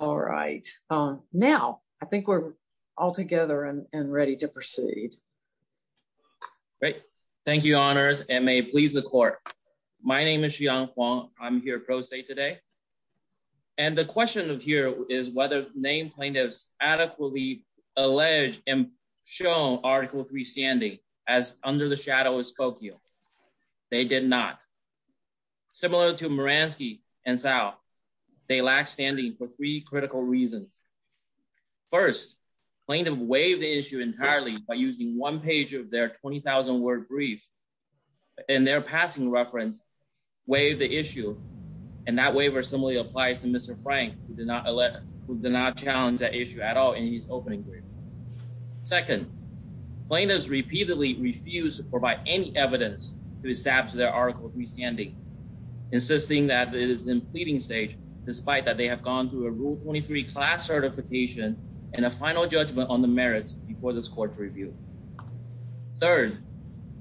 All right. Now, I think we're all together and ready to proceed. Great. Thank you, honors, and may it please the court. My name is Shiyang Huang. I'm here pro se today. And the question of here is whether name plaintiffs adequately alleged and shown Article III standing as under the shadow of Skokie. They did not. Similar to Moransky and Thao, they lack standing for three critical reasons. First, plaintiff waived the issue entirely by using one page of their 20,000 word brief in their passing reference, waived the issue. And that waiver similarly applies to Mr. Frank, who did not challenge that issue at all in his opening brief. Second, plaintiffs repeatedly refused to provide any evidence to establish their Article III standing, insisting that it is in pleading stage, despite that they have gone through a Rule 23 class certification and a final judgment on the merits before this court's review. Third,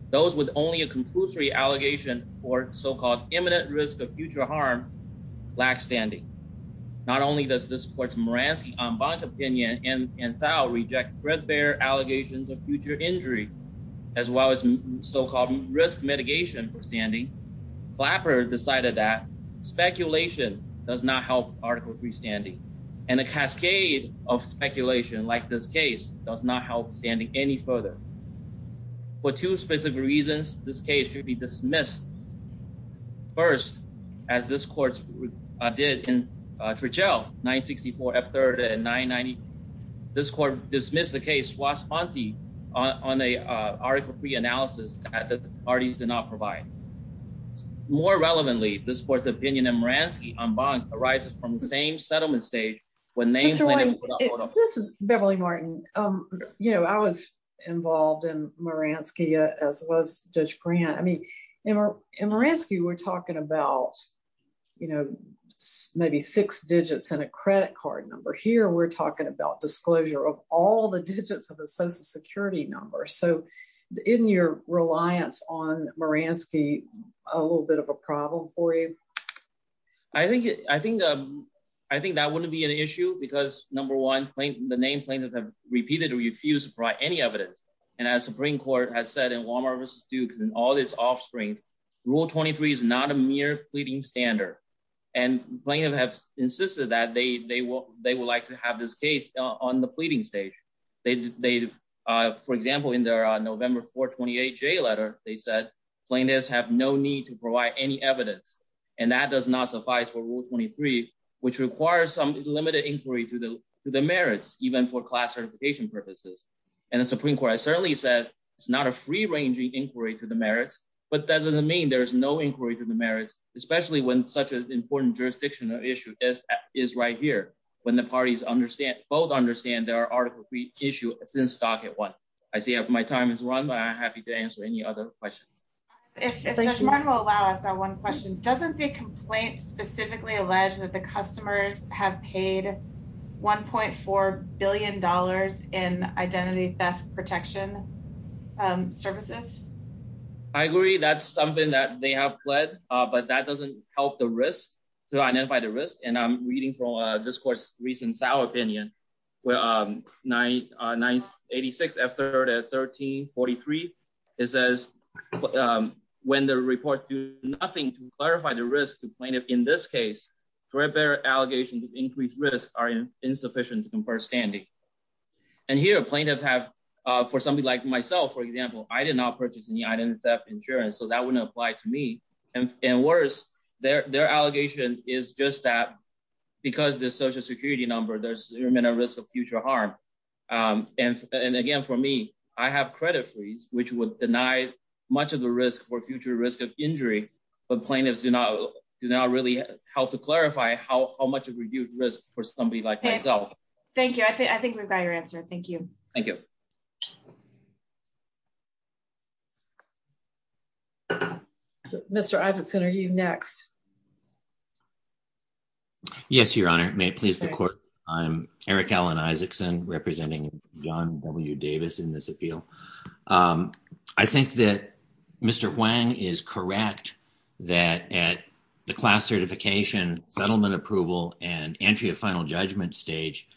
those with only a conclusory allegation for so-called imminent risk of future harm, lack standing. Not only does this court's Moransky-Ombak opinion and Thao reject their allegations of future injury, as well as so-called risk mitigation for standing, Flapper decided that speculation does not help Article III standing. And a cascade of speculation, like this case, does not help standing any further. For two specific reasons, this case should be dismissed first, as this court did in Trichel, 964 F.3rd and 990. This court dismissed the case swastikanti on a Article III analysis that the parties did not provide. More relevantly, this court's opinion of Moransky-Ombak arises from the same settlement stage when names went into the holdup. This is Beverly Martin. You know, I was involved in Moransky, as was Judge Grant. I mean, in Moransky, we're talking about, you know, maybe six digits and a credit card number. Here, we're talking about disclosure of all the digits of the Social Security number. So, isn't your reliance on Moransky a little bit of a problem for you? I think that wouldn't be an issue, because, number one, the name plaintiffs have repeatedly refused to provide any evidence. And as the Supreme Court has said in Walmart v. Duke and all these offsprings, Rule 23 is not a mere fleeting standard. And plaintiffs have insisted that they would like to have this case on the fleeting stage. They, for example, in their November 428 J letter, they said, plaintiffs have no need to provide any evidence. And that does not suffice for Rule 23, which requires some limited inquiry to the merits, even for class certification purposes. And the Supreme Court has certainly said it's not a free-ranging inquiry to the merits, but that doesn't mean there's no inquiry to the merits, especially when such an important jurisdictional issue is right here, when the parties both understand their Article III issue is in stock at once. I see that my time has run, but I'm happy to answer any other questions. If the gentleman will allow, I've got one question. Doesn't the complaint specifically allege that the customers have paid $1.4 billion in identity theft protection services? I agree that's something that they have pled, but that doesn't help the risk, to identify the risk. And I'm reading from this court's recent trial opinion, where 986, at 1343, it says, when the report do nothing to clarify the risk, the plaintiff, in this case, for their allegations of increased risk are insufficient to confer standing. And here, plaintiffs have, for somebody like myself, for example, I did not purchase any identity theft insurance, so that wouldn't apply to me. And worse, their allegation is just that, because the social security number, there's zero minute risk of future harm. And again, for me, I have credit fees, which would deny much of the risk for future risk of injury, but plaintiffs do not really help to clarify how much of reduced risk for somebody like myself. Thank you. I think we've got your answer. Thank you. Thank you. Mr. Isakson, are you next? Yes, Your Honor. May it please the Court, I'm Eric Alan Isakson, representing John W. Davis in this appeal. I think that Mr. Huang is correct that at the class certification, settlement approval, and entry of final judgment stage,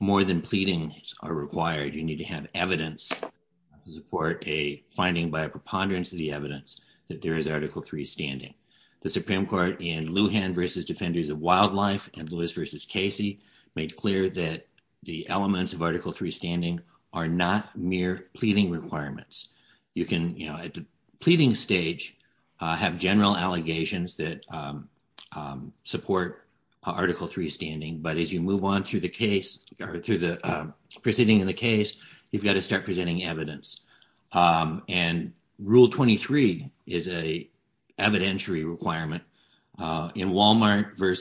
more than pleadings are required. You need to have evidence to support a finding by a preponderance of the evidence that there is Article III standing. The Supreme Court in Lujan v. Defenders of Wildlife and Lewis v. Casey made clear that the elements of Article III standing are not mere pleading requirements. You can, at the pleading stage, have general allegations that support Article III standing, but as you move on through the proceeding of the case, you've got to start presenting evidence. And Rule 23 is a evidentiary requirement. In Walmart v.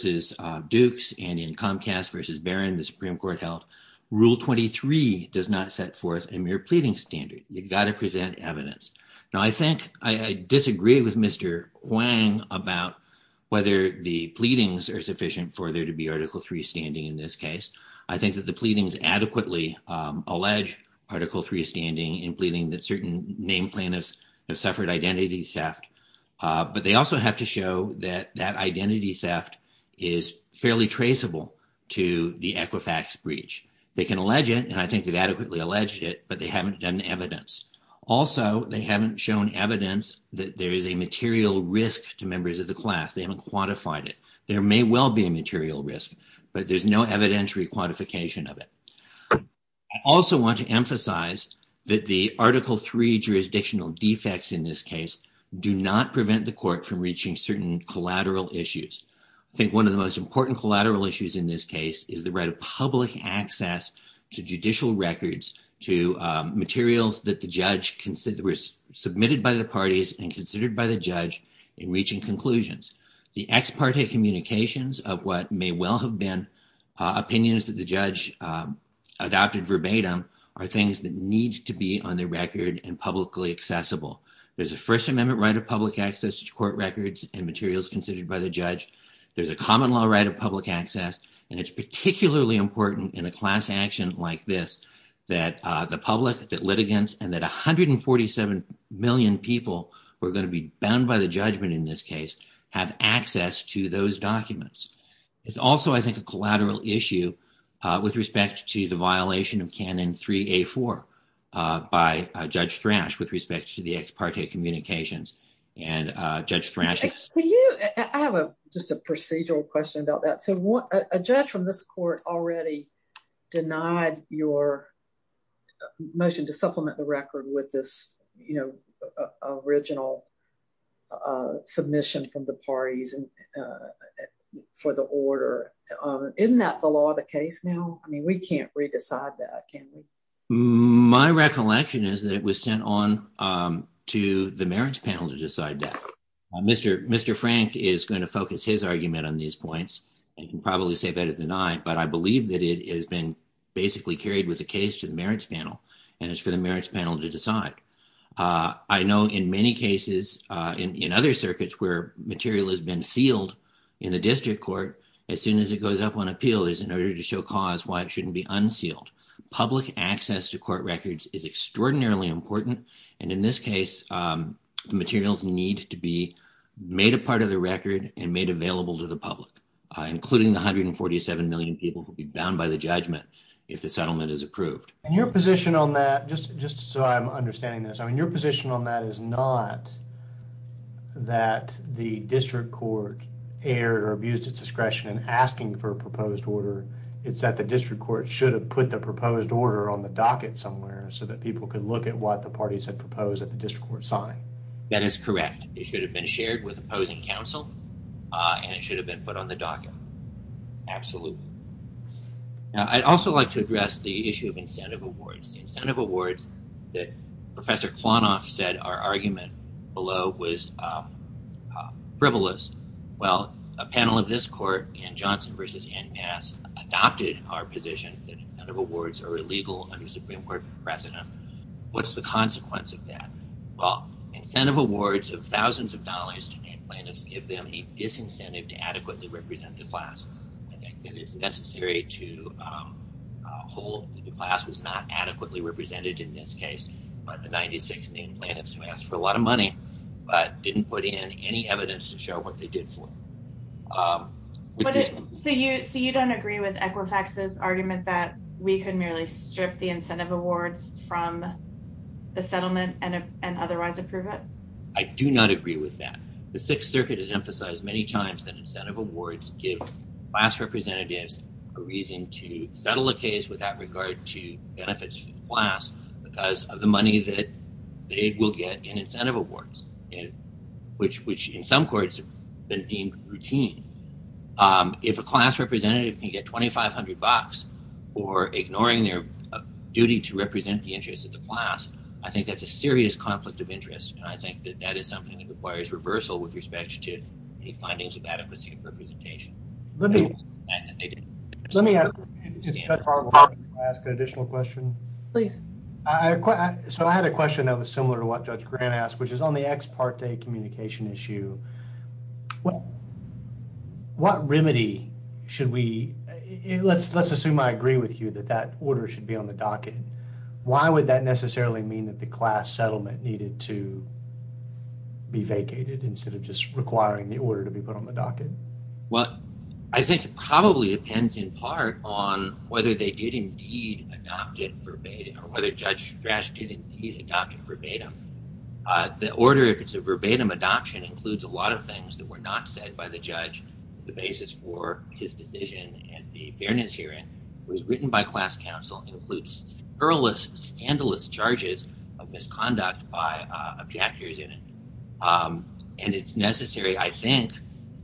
Dukes and in Comcast v. Barron, the Supreme Court held, Rule 23 does not set forth a mere pleading standard. You've got to present evidence. Now, I think I disagree with Mr. Huang about whether the pleadings are sufficient for there to be Article III standing in this case. I think that the pleadings adequately allege Article III standing in pleading that certain name plaintiffs have suffered identity theft, but they also have to show that that identity theft is fairly traceable to the Equifax breach. They can allege it, and I think they've adequately alleged it, but they haven't done the evidence. Also, they haven't shown evidence that there is a material risk to members of the class. They haven't quantified it. There may well be a material risk, but there's no evidentiary quantification of it. I also want to emphasize that the Article III jurisdictional defects in this case do not prevent the court from reaching certain collateral issues. I think one of the most important collateral issues in this case is the right of public access to judicial records, to materials that the judge considered were submitted by the parties and considered by the judge in reaching conclusions. The ex parte communications of what may well have been opinions that the judge adopted verbatim are things that need to be on the record and publicly accessible. There's a First Amendment right of public access to court records and materials considered by the judge. There's a common law right of public access, and it's particularly important in a class action like this that the public, that litigants, and that 147 million people who are going to be bound by the judgment in this case have access to those documents. It's also, I think, a collateral issue with respect to the violation of Canon 3A4 by Judge Fransch with respect to the ex parte communications. And Judge Fransch... Can you... I have just a procedural question about that. So a judge from this court already denied your motion to supplement the record with this original submission from the parties for the order. Isn't that the law of the case now? I mean, we can't re-decide that, can we? My recollection is that it was sent on to the merits panel to decide that. Mr. Fransch is going to focus his argument on these points. He can probably say better than I, but I believe that it has been basically carried with the case to the merits panel, and it's for the merits panel to decide. I know in many cases in other circuits where material has been sealed in the district court, as soon as it goes up on appeal is in order to show cause why it shouldn't be unsealed. Public access to court records is extraordinarily important. And in this case, the materials need to be made a part of the record and made available to the public, including the 147 million people who will be bound by the judgment if the settlement is approved. And your position on that, just so I'm understanding this, I mean, your position on that is not that the district court erred or abused its discretion in asking for a proposed order. It's that the district court should have put the proposed order on the docket somewhere so that people could look at what the parties had proposed at the district court sign. That is correct. It should have been shared with opposing counsel, and it should have been put on the docket. Absolutely. Now, I'd also like to address the issue of incentive awards. The incentive awards that Professor Klonoff said our argument below was frivolous. Well, a panel of this court, Ken Johnson versus NPS, adopted our position that incentive awards are illegal under Supreme Court precedent. What's the consequence of that? Well, incentive awards of thousands of dollars to plaintiffs give them the disincentive to adequately represent the class. I think it is necessary to hold that the class was not adequately represented in this case, but the 96 plaintiffs asked for a lot of money, but didn't put in any evidence to show what they did for it. So you don't agree with Equifax's argument that we could merely strip the incentive awards from the settlement and otherwise approve it? I do not agree with that. The Sixth Circuit has emphasized many times that incentive awards give class representatives a reason to settle a case without regard to benefits from the class because of the money that they will get in incentive awards, which in some courts has been deemed routine. If a class representative can get 2,500 bucks for ignoring their duty to represent the interests of the class, I think that's a serious conflict of interest. And I think that that is something that requires reversal with respect to the findings of adequacy representation. Let me ask, did Judge Harville want to ask an additional question? Please. So I had a question that was similar to what Judge Grant asked, which is on the ex parte communication issue. What remedy should we, let's assume I agree with you that that order should be on the docket. Why would that necessarily mean that the class settlement needed to be vacated instead of just requiring the order to be put on the docket? Well, I think it probably depends in part on whether they did indeed adopt it verbatim or whether Judge Grasch did indeed adopt it verbatim. The order, if it's a verbatim adoption, includes a lot of things that were not said by the judge as the basis for his decision at the fairness hearing. It was written by class counsel and includes perilous, scandalous charges of misconduct by objectors in it. And it's necessary, I think,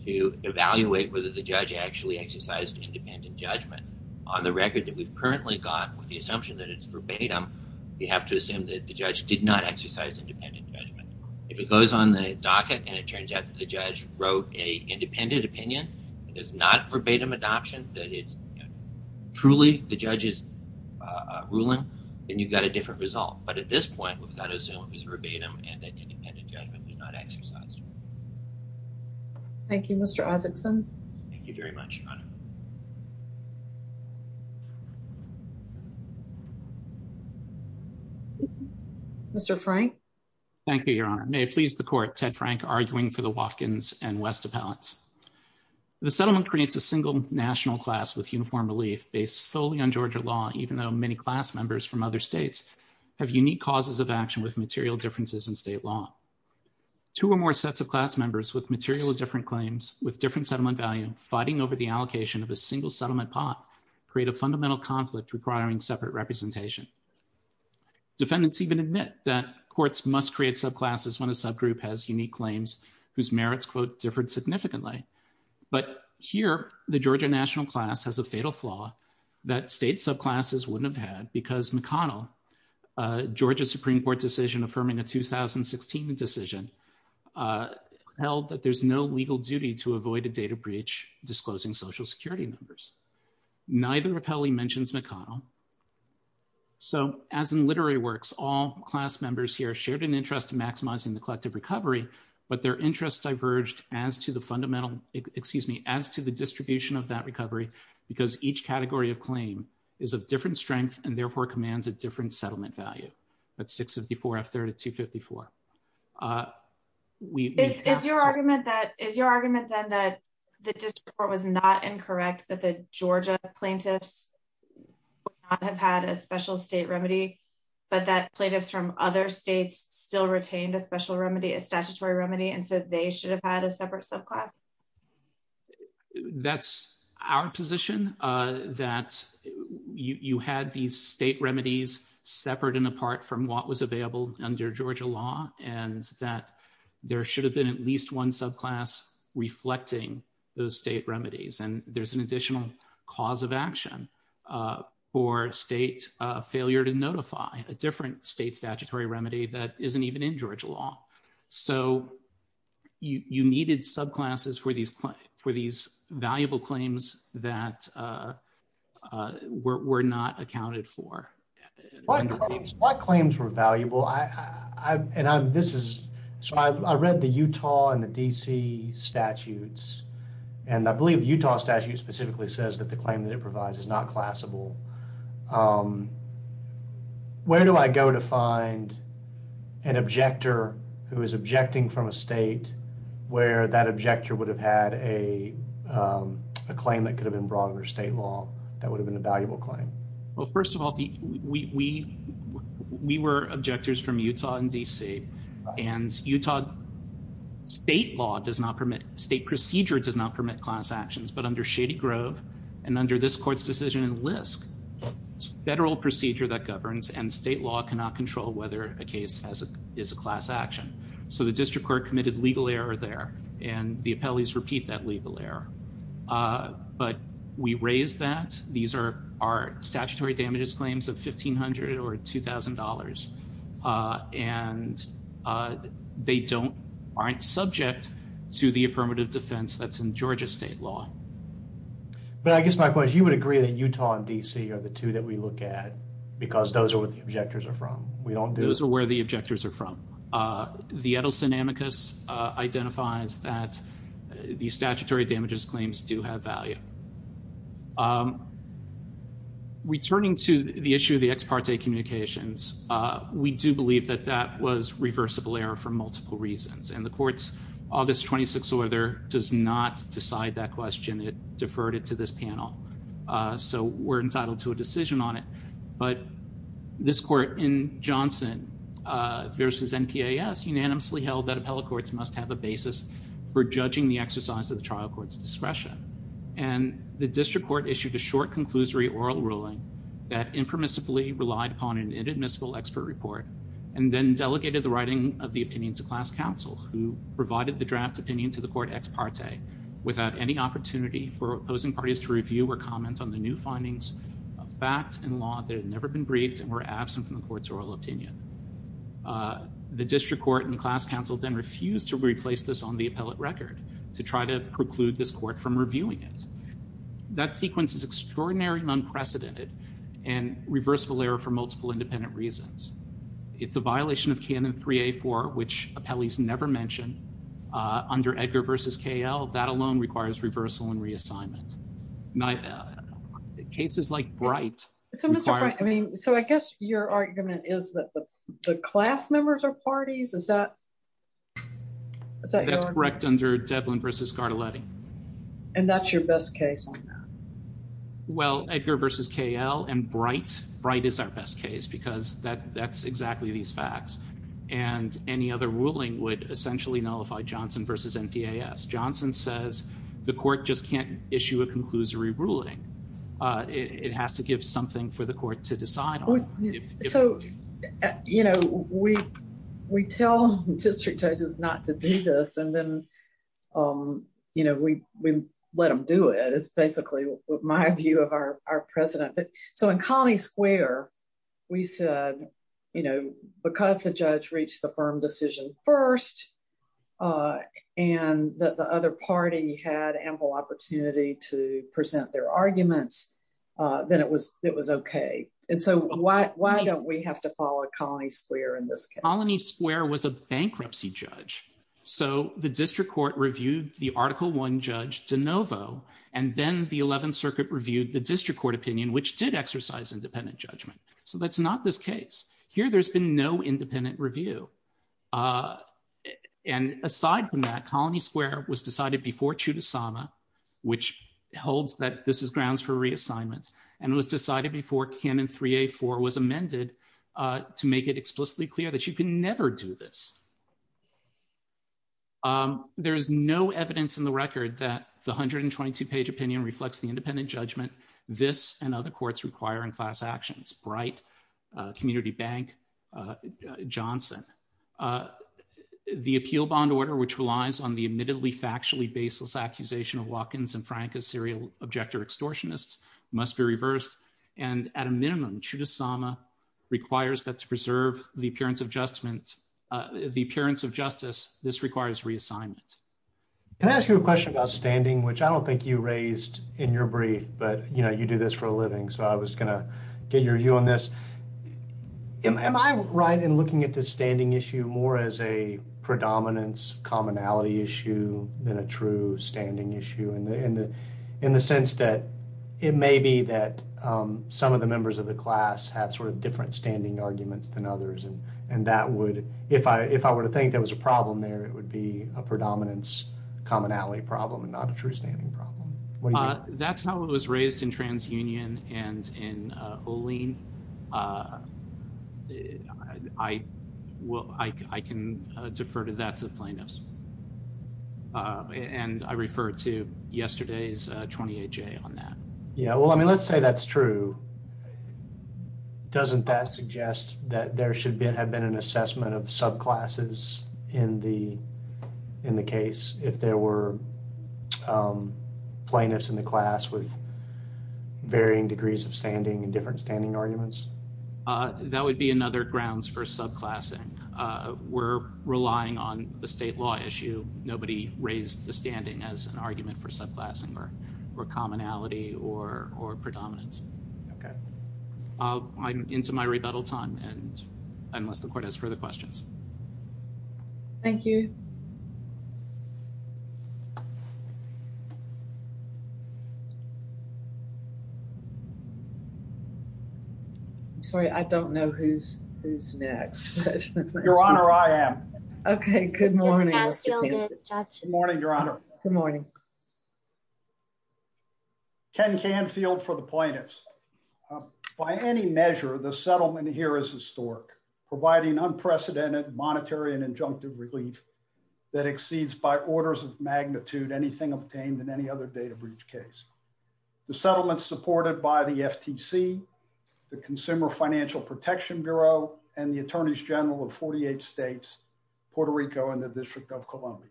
to evaluate whether the judge actually exercised independent judgment on the record that we've currently got with the assumption that it's verbatim. We have to assume that the judge did not exercise independent judgment. If it goes on the docket and it turns out that the judge wrote a independent opinion, it is not verbatim adoption, that is truly the judge's ruling, then you've got a different result. But at this point, we've got to assume it's verbatim and that independent judgment is not exercised. Thank you, Mr. Osgutson. Thank you very much, Hannah. Mr. Frank. Thank you, Your Honor. May it please the court, Ted Frank, arguing for the Watkins and Westapotts. The settlement creates a single national class with uniform relief based solely on Georgia law, even though many class members from other states have unique causes of action with material differences in state law. Two or more sets of class members with material with different claims, fighting over the allocation of a single settlement pot create a fundamental conflict requiring settlement to be made. The state has a separate representation. Defendants even admit that courts must create subclasses when a subgroup has unique claims whose merits quote, differed significantly. But here, the Georgia national class has a fatal flaw that state subclasses wouldn't have had because McConnell, Georgia Supreme Court decision affirming a 2016 decision, held that there's no legal duty to avoid a data breach disclosing social security numbers. Neither Rapelli mentions McConnell. So as in literary works, all class members here shared an interest in maximizing the collective recovery, but their interests diverged as to the fundamental, excuse me, as to the distribution of that recovery because each category of claim is a different strength and therefore commands a different settlement value. That's 654 after 254. We- Is your argument then that the district court was not incorrect that the Georgia plaintiffs would not have had a special state remedy, but that plaintiffs from other states still retained a special remedy, a statutory remedy, and so they should have had a separate subclass? That's our position, that you had these state remedies separate and apart from what was available under Georgia law, and that there should have been at least one subclass reflecting those state remedies. And there's an additional cause of action for state failure to notify a different state statutory remedy that isn't even in Georgia law. So you needed subclasses for these valuable claims that were not accounted for. My claims were valuable. Well, I, and this is, so I read the Utah and the DC statutes, and I believe the Utah statute specifically says that the claim that it provides is not classable. Where do I go to find an objector who is objecting from a state where that objector would have had a claim that could have been brought under state law that would have been a valuable claim? Well, first of all, we were objectors from Utah and DC, and Utah state law does not permit, state procedure does not permit class actions, but under Shady Grove, and under this court's decision in LISC, federal procedure that governs, and state law cannot control whether a case is a class action. So the district court committed legal error there, and the appellees repeat that legal error. But we raise that. These are statutory damages claims of $1,500 or $2,000, and they don't, aren't subject to the affirmative defense that's in Georgia state law. But I guess my point is, you would agree that Utah and DC are the two that we look at, because those are where the objectors are from. We don't do- Those are where the objectors are from. The Edelson-Amicus identifies that the statutory damages claims do have value. Returning to the issue of the ex parte communications, we do believe that that was reversible error for multiple reasons. And the court's August 26th order does not decide that question. It deferred it to this panel. So we're entitled to a decision on it. But this court in Johnson versus NPAS unanimously held that appellate courts must have a basis for judging the exercise of the trial court's discretion. And the district court issued a short conclusory oral ruling that impermissibly relied upon an inadmissible expert report, and then delegated the writing of the opinion to class counsel, who provided the draft opinion to the court ex parte without any opportunity for opposing parties to review or comment on the new findings, facts and law that had never been briefed and were absent from the court's oral opinion. The district court and the class counsel then refused to replace this on the appellate record to try to preclude this court from reviewing it. That sequence is extraordinary and unprecedented and reversible error for multiple independent reasons. It's a violation of canon 3A4, which appellees never mentioned under Edgar versus KL, that alone requires reversal and reassignment. Cases like Bright. So Mr. Bright, I mean, so I guess your argument is that the class members are parties, is that? Is that your argument? That's correct under Devlin versus Gardeletti. And that's your best case on that? Well, Edgar versus KL and Bright, Bright is our best case, because that's exactly these facts. And any other ruling would essentially nullify Johnson versus NPAS. Johnson says the court just can't issue a conclusory ruling. It has to give something for the court to decide on. So, you know, we tell district judges not to do this, and then, you know, we let them do it. It's basically my view of our president. So in Coney Square, we said, you know, because the judge reached the firm decision first, and that the other party had ample opportunity to present their arguments, then it was okay. And so why don't we have to follow Coney Square in this case? Coney Square was a bankruptcy judge. So the district court reviewed the Article I judge DeNovo, and then the 11th Circuit reviewed the district court opinion, which did exercise independent judgment. So that's not this case. Here, there's been no independent review. And aside from that, Coney Square was decided before Chudasama, which holds that this is grounds for reassignment, and was decided before Canon 3A4 was amended to make it explicitly clear that you can never do this. There's no evidence in the record that the 122-page opinion reflects the independent judgment this and other courts require in class actions, Bright, Community Bank, Johnson. The appeal bond order, which relies on the admittedly, of Watkins and Frank as serial objector extortionists, must be reversed. And at a minimum, Chudasama requires that to preserve the appearance of justice, this requires reassignment. Can I ask you a question about standing, which I don't think you raised in your brief, but you do this for a living. So I was gonna get your view on this. Am I right in looking at the standing issue more as a predominance commonality issue than a true standing issue in the sense that it may be that some of the members of the class have sort of different standing arguments than others. And that would, if I were to think that was a problem there, it would be a predominance commonality problem and not a true standing problem. That's not what was raised in TransUnion and in Olin. I can defer to that to plaintiffs. And I refer to yesterday's 28-J on that. Yeah, well, I mean, let's say that's true. Doesn't that suggest that there should have been an assessment of subclasses in the case, if there were plaintiffs in the class with varying degrees of standing and different standing arguments? That would be another grounds for subclassing. We're relying on the state law issue. Nobody raised the standing as an argument for subclassing or commonality or predominance. Okay, I'm into my rebuttal time and unless the court has further questions. Thank you. Sorry, I don't know who's next. Your Honor, I am. Okay, good morning. Good morning, Your Honor. Good morning. Ken Canfield for the plaintiffs. By any measure, the settlement here is historic, providing unprecedented monetary and injunctive relief that exceeds by orders of magnitude anything obtained in any other data breach case. The settlement supported by the FTC, the Consumer Financial Protection Bureau and the Attorneys General of 48 states, Puerto Rico and the District of Columbia.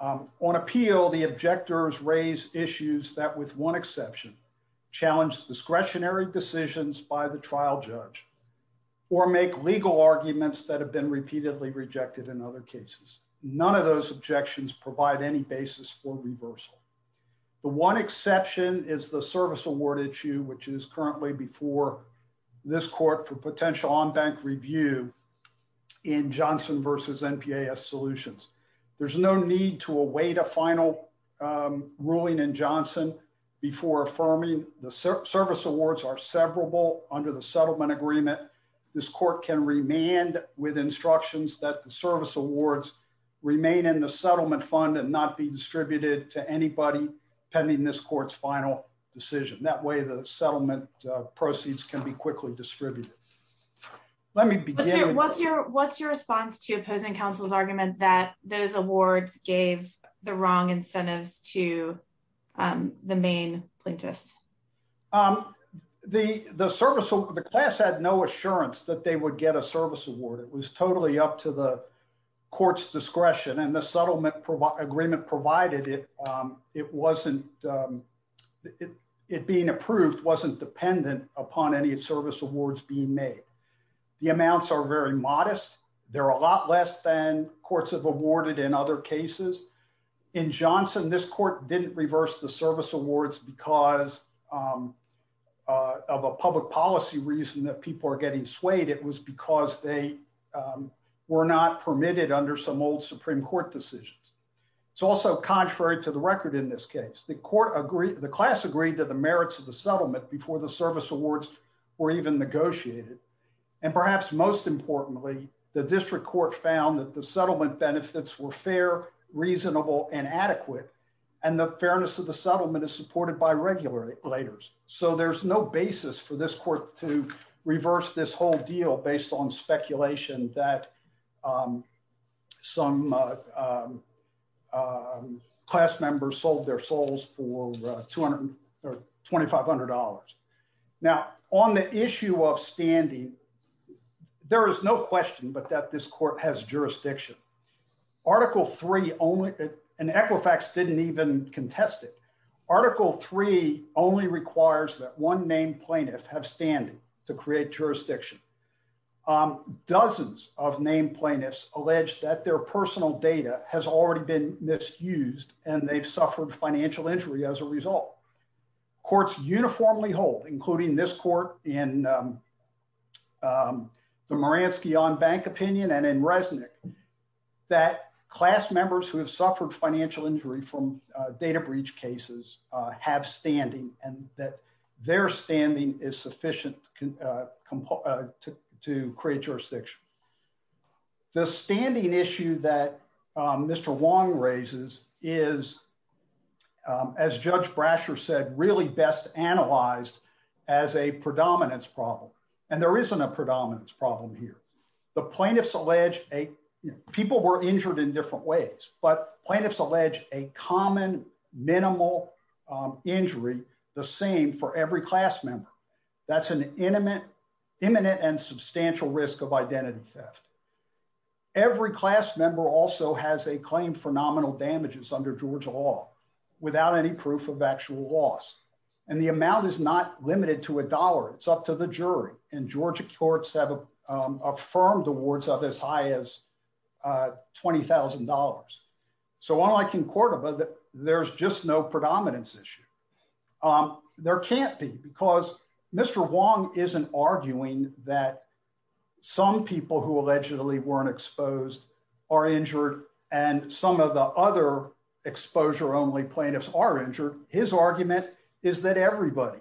On appeal, the objectors raised issues that with one exception, challenged discretionary decisions by the trial judge or make legal arguments that have been repeatedly rejected in other cases. None of those objections provide any basis for reversal. The one exception is the service award issue, which is currently before this court for potential on-bank review in Johnson versus NPAS solutions. There's no need to await a final ruling in Johnson before affirming the service awards are severable under the settlement agreement. This court can remand with instructions that the service awards remain in the settlement fund and not be distributed to anybody pending this court's final decision. That way the settlement proceeds can be quickly distributed. Let me begin. What's your response to opposing counsel's argument that those awards gave the wrong incentive to the main plaintiff? The class had no assurance that they would get a service award. It was totally up to the court's discretion and the settlement agreement provided it. It wasn't, it being approved, wasn't dependent upon any service awards being made. The amounts are very modest. They're a lot less than courts have awarded in other cases. In Johnson, this court didn't reverse the service awards because of a public policy reason that people are getting swayed. It was because they were not permitted under some old Supreme Court decisions. It's also contrary to the record in this case. The court agreed, the class agreed to the merits of the settlement before the service awards were even negotiated. And perhaps most importantly, the district court found that the settlement benefits were fair, reasonable, and adequate. And the fairness of the settlement is supported by regulators. So there's no basis for this court to reverse this whole deal based on speculation that some class members sold their souls for $2,500. Now on the issue of standing, there is no question but that this court has jurisdiction. Article three only, and Equifax didn't even contest it. Article three only requires that one main plaintiff have standing to create jurisdiction. Dozens of main plaintiffs allege that their personal data has already been misused and they've suffered financial injury as a result. Courts uniformly hold, including this court in the Moransky on bank opinion and in Resnick that class members who have suffered financial injury from data breach cases have standing and that their standing is sufficient to comply to create jurisdiction. The standing issue that Mr. Wong raises is, as Judge Brasher said, really best analyzed as a predominance problem. And there isn't a predominance problem here. The plaintiffs allege, people were injured in different ways, but plaintiffs allege a common minimal injury, the same for every class member. That's an imminent and substantial risk of identity theft. Every class member also has a claim for nominal damages under Georgia law without any proof of actual loss. And the amount is not limited to a dollar, it's up to the jury. And Georgia courts have affirmed the words of as high as $20,000. So all I can quote about it, there's just no predominance issue. There can't be, because Mr. Wong isn't arguing that some people who allegedly weren't exposed are injured and some of the other exposure only plaintiffs are injured. His argument is that everybody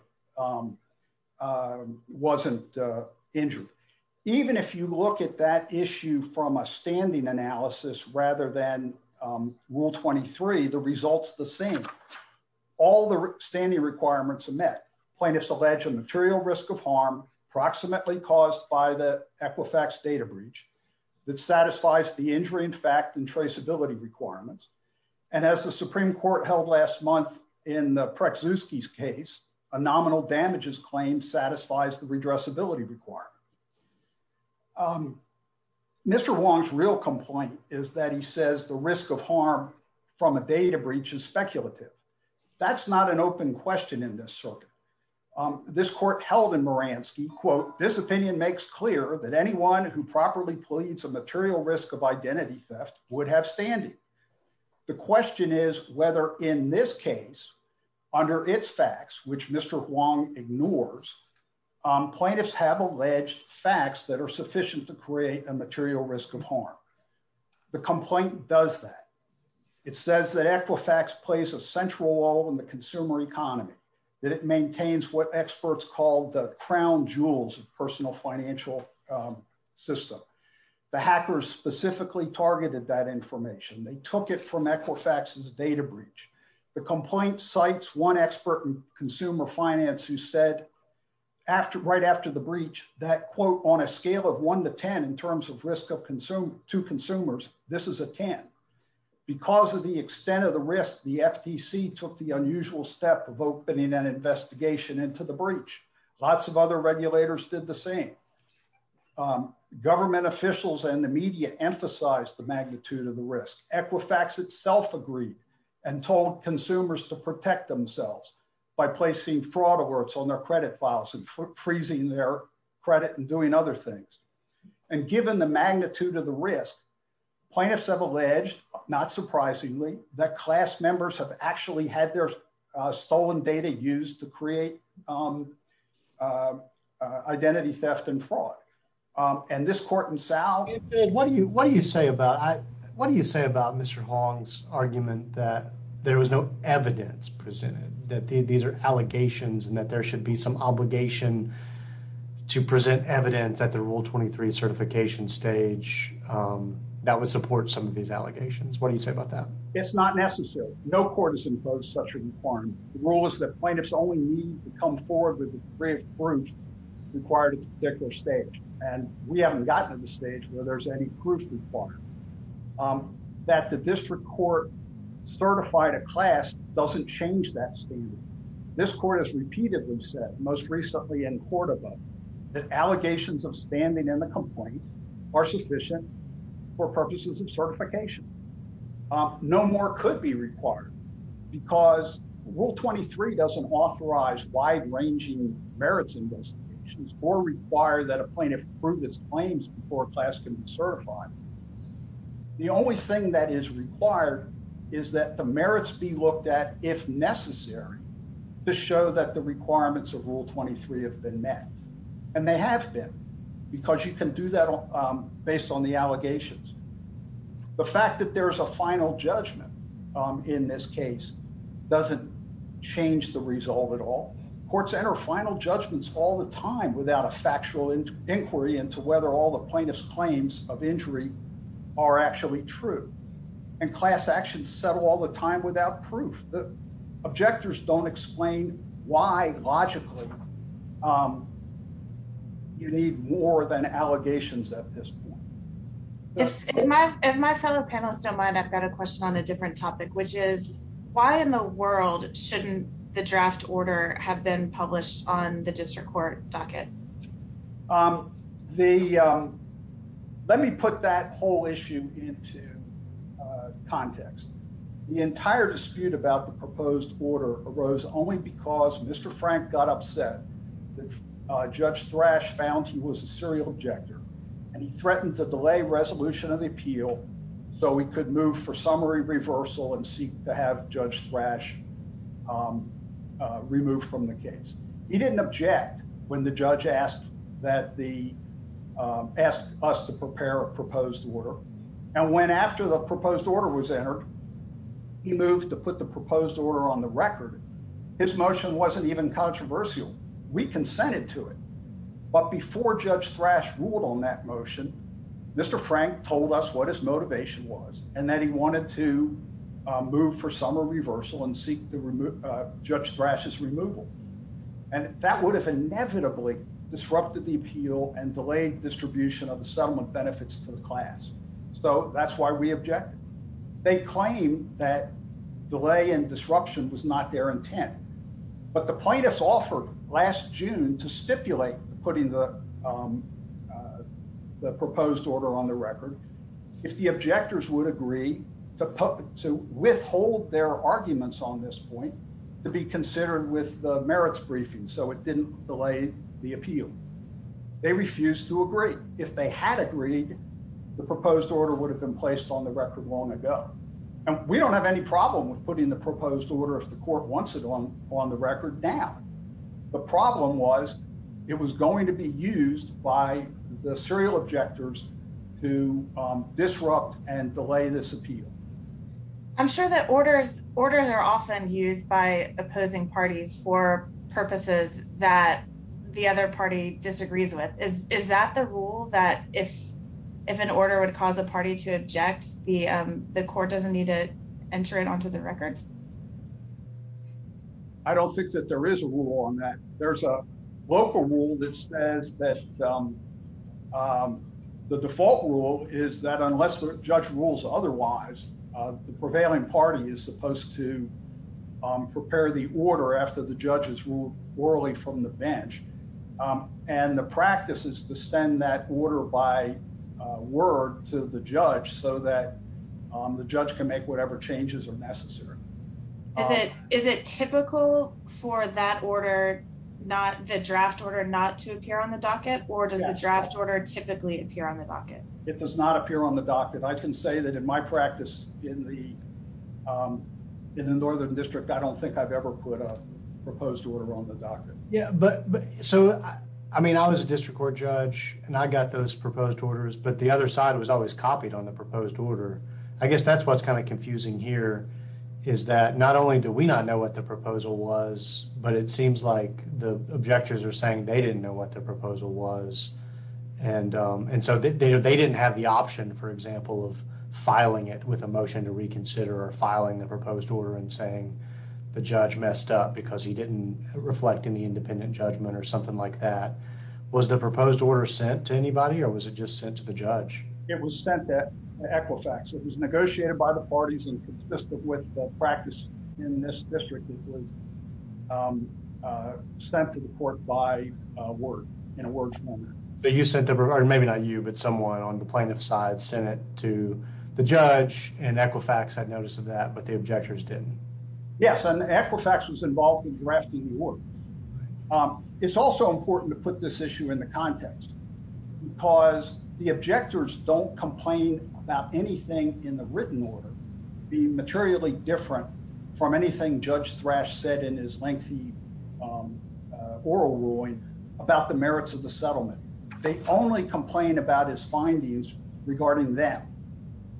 wasn't injured. Even if you look at that issue from a standing analysis rather than rule 23, the result's the same. All the standing requirements are met. Plaintiffs allege a material risk of harm approximately caused by the Equifax data breach that satisfies the injury in fact and traceability requirements. And as the Supreme Court held last month in the Preczewski's case, a nominal damages claim satisfies the redressability requirement. Mr. Wong's real complaint is that he says the risk of harm from a data breach is speculative. That's not an open question in this circuit. This court held in Moransky, quote, this opinion makes clear that anyone who properly pleads a material risk of identity theft would have standing. The question is whether in this case under its facts, which Mr. Wong ignores, plaintiffs have alleged facts that are sufficient to create a material risk of harm. The complaint does that. It says that Equifax plays a central role in the consumer economy, that it maintains what experts call the crown jewels of personal financial system. The hackers specifically targeted that information. They took it from Equifax's data breach. The complaint cites one expert in consumer finance who said right after the breach, that quote, on a scale of one to 10 in terms of risk to consumers, this is a 10. Because of the extent of the risk, the FTC took the unusual step of opening an investigation into the breach. Lots of other regulators did the same. Government officials and the media emphasized the magnitude of the risk. Equifax itself agreed and told consumers to protect themselves by placing fraud alerts on their credit files and freezing their credit and doing other things. And given the magnitude of the risk, plaintiffs have alleged, not surprisingly, that class members have actually had their stolen data used to create identity theft and fraud. And this court in South. What do you say about Mr. Hong's argument that there was no evidence presented, that these are allegations and that there should be some obligation to present evidence at the Rule 23 certification stage that would support some of these allegations? What do you say about that? It's not necessary. No court has imposed such a requirement. The rule is that plaintiffs only need to come forward with a brief proof required at a particular stage. And we haven't gotten to the stage where there's any proof required. That the district court certified a class doesn't change that statement. This court has repeatedly said, most recently in Cordova, that allegations of standing in the complaint are sufficient for purposes of certification. No more could be required because Rule 23 doesn't authorize wide ranging merits investigations or require that a plaintiff prove its claims before class can be certified. The only thing that is required is that the merits be looked at if necessary to show that the requirements of Rule 23 have been met. And they have been, because you can do that based on the allegations. The fact that there's a final judgment in this case doesn't change the resolve at all. Courts enter final judgments all the time without a factual inquiry into whether all the plaintiff's claims of injury are actually true. And class actions settle all the time without proof. The objectors don't explain why logically you need more than allegations at this point. If my fellow panelists don't mind, I've got a question on a different topic, which is why in the world shouldn't the draft order have been published on the district court docket? Let me put that whole issue into context. The entire dispute about the proposed order arose only because Mr. Frank got upset that Judge Thrash found he was a serial objector. And he threatened to delay resolution of the appeal so he could move for summary reversal and seek to have Judge Thrash removed from the case. He didn't object when the judge asked us to prepare a proposed order. And when after the proposed order was entered, he moved to put the proposed order on the record, his motion wasn't even controversial. We consented to it. But before Judge Thrash ruled on that motion, Mr. Frank told us what his motivation was and that he wanted to move for summary reversal and seek Judge Thrash's removal. And that would have inevitably disrupted the appeal and delayed distribution of the settlement benefits to the class. So that's why we object. They claim that delay and disruption was not their intent. But the plaintiffs offered last June to stipulate putting the proposed order on the record. If the objectors would agree to withhold their arguments on this point to be considered with the merits briefing so it didn't delay the appeal. They refused to agree. If they had agreed, the proposed order would have been placed on the record long ago. And we don't have any problem with putting the proposed order if the court wants it on the record now. The problem was it was going to be used by the serial objectors to disrupt and delay this appeal. I'm sure that orders are often used by opposing parties for purposes that the other party disagrees with. Is that the rule that if an order would cause a party to object, the court doesn't need to enter it onto the record? I don't think that there is a rule on that. There's a local rule that says that the default rule is that unless the judge rules otherwise, the prevailing party is supposed to prepare the order after the judge has ruled orally from the bench. And the practice is to send that order by word to the judge so that the judge can make whatever changes are necessary. Is it typical for that order, not the draft order not to appear on the docket or does the draft order typically appear on the docket? It does not appear on the docket. I can say that in my practice in the Northern District, I don't think I've ever put a proposed order on the docket. Yeah, but so, I mean, I was a district court judge and I got those proposed orders, but the other side was always copied on the proposed order. I guess that's what's kind of confusing here is that not only do we not know what the proposal was, but it seems like the objectors are saying they didn't know what the proposal was. And so they didn't have the option, for example, of filing it with a motion to reconsider or filing the proposed order and saying the judge messed up because he didn't reflect any independent judgment or something like that. Was the proposed order sent to anybody or was it just sent to the judge? It was sent to Equifax. It was negotiated by the parties and consisted with the practice in this district that we sent to the court by word, in a word form. But you sent the, or maybe not you, but someone on the plaintiff's side sent it to the judge and Equifax had notice of that, but the objectors didn't. Yes, and Equifax was involved in drafting the order. It's also important to put this issue in the context because the objectors don't complain about anything in the written order being materially different from anything Judge Thrash said in his lengthy oral ruling about the merits of the settlement. They only complain about his findings regarding that.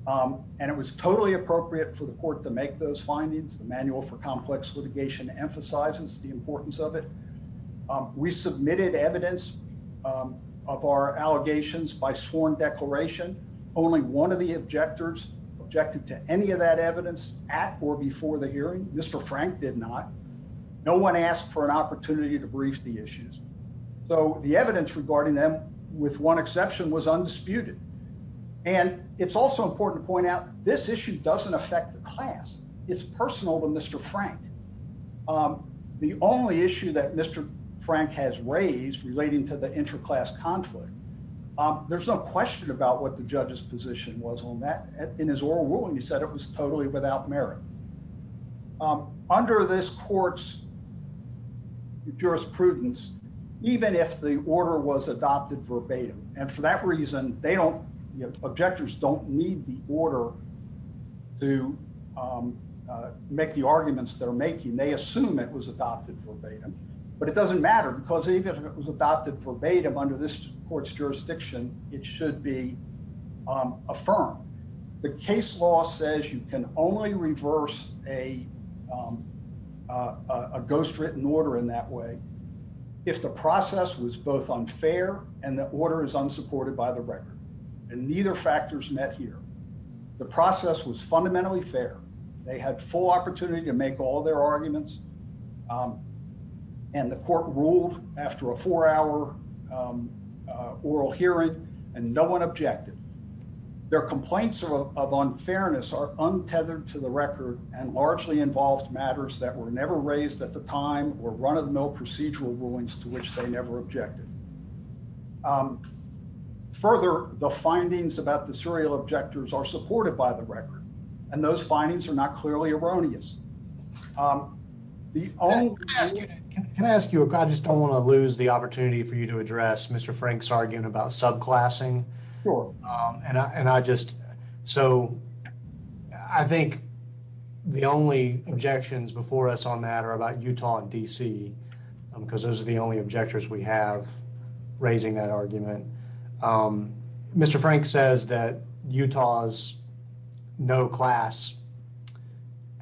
And it was totally appropriate for the court to make those findings. The Manual for Complex Litigation emphasizes the importance of it. We submitted evidence of our allegations by sworn declaration. Only one of the objectors objected to any of that evidence at or before the hearing. Mr. Frank did not. No one asked for an opportunity to brief the issues. So the evidence regarding them, with one exception, was undisputed. And it's also important to point out this issue doesn't affect the class. It's personal to Mr. Frank. The only issue that Mr. Frank has raised relating to the interclass conflict, there's no question about what the judge's position was on that in his oral ruling. He said it was totally without merit. Under this court's jurisprudence, even if the order was adopted verbatim, and for that reason, they don't, objectors don't need the order to make the arguments they're making. They assume it was adopted verbatim. But it doesn't matter, because even if it was adopted verbatim under this court's jurisdiction, it should be affirmed. The case law says you can only reverse a ghostwritten order in that way if the process was both unfair and the order is unsupported by the record. And neither factors met here. The process was fundamentally fair. They had full opportunity to make all their arguments. And the court ruled after a four-hour oral hearing and no one objected. Their complaints of unfairness are untethered to the record and largely involved matters that were never raised at the time or run-of-the-mill procedural rulings to which they never objected. Further, the findings about the serial objectors are supported by the record, and those findings are not clearly erroneous. Can I ask you, if I just don't want to lose the opportunity for you to address Mr. Frank's argument about subclassing? Sure. And I just, so, I think the only objections before us on that are about Utah and D.C., because those are the only objectors we have. Raising that argument. Mr. Frank says that Utah's no-class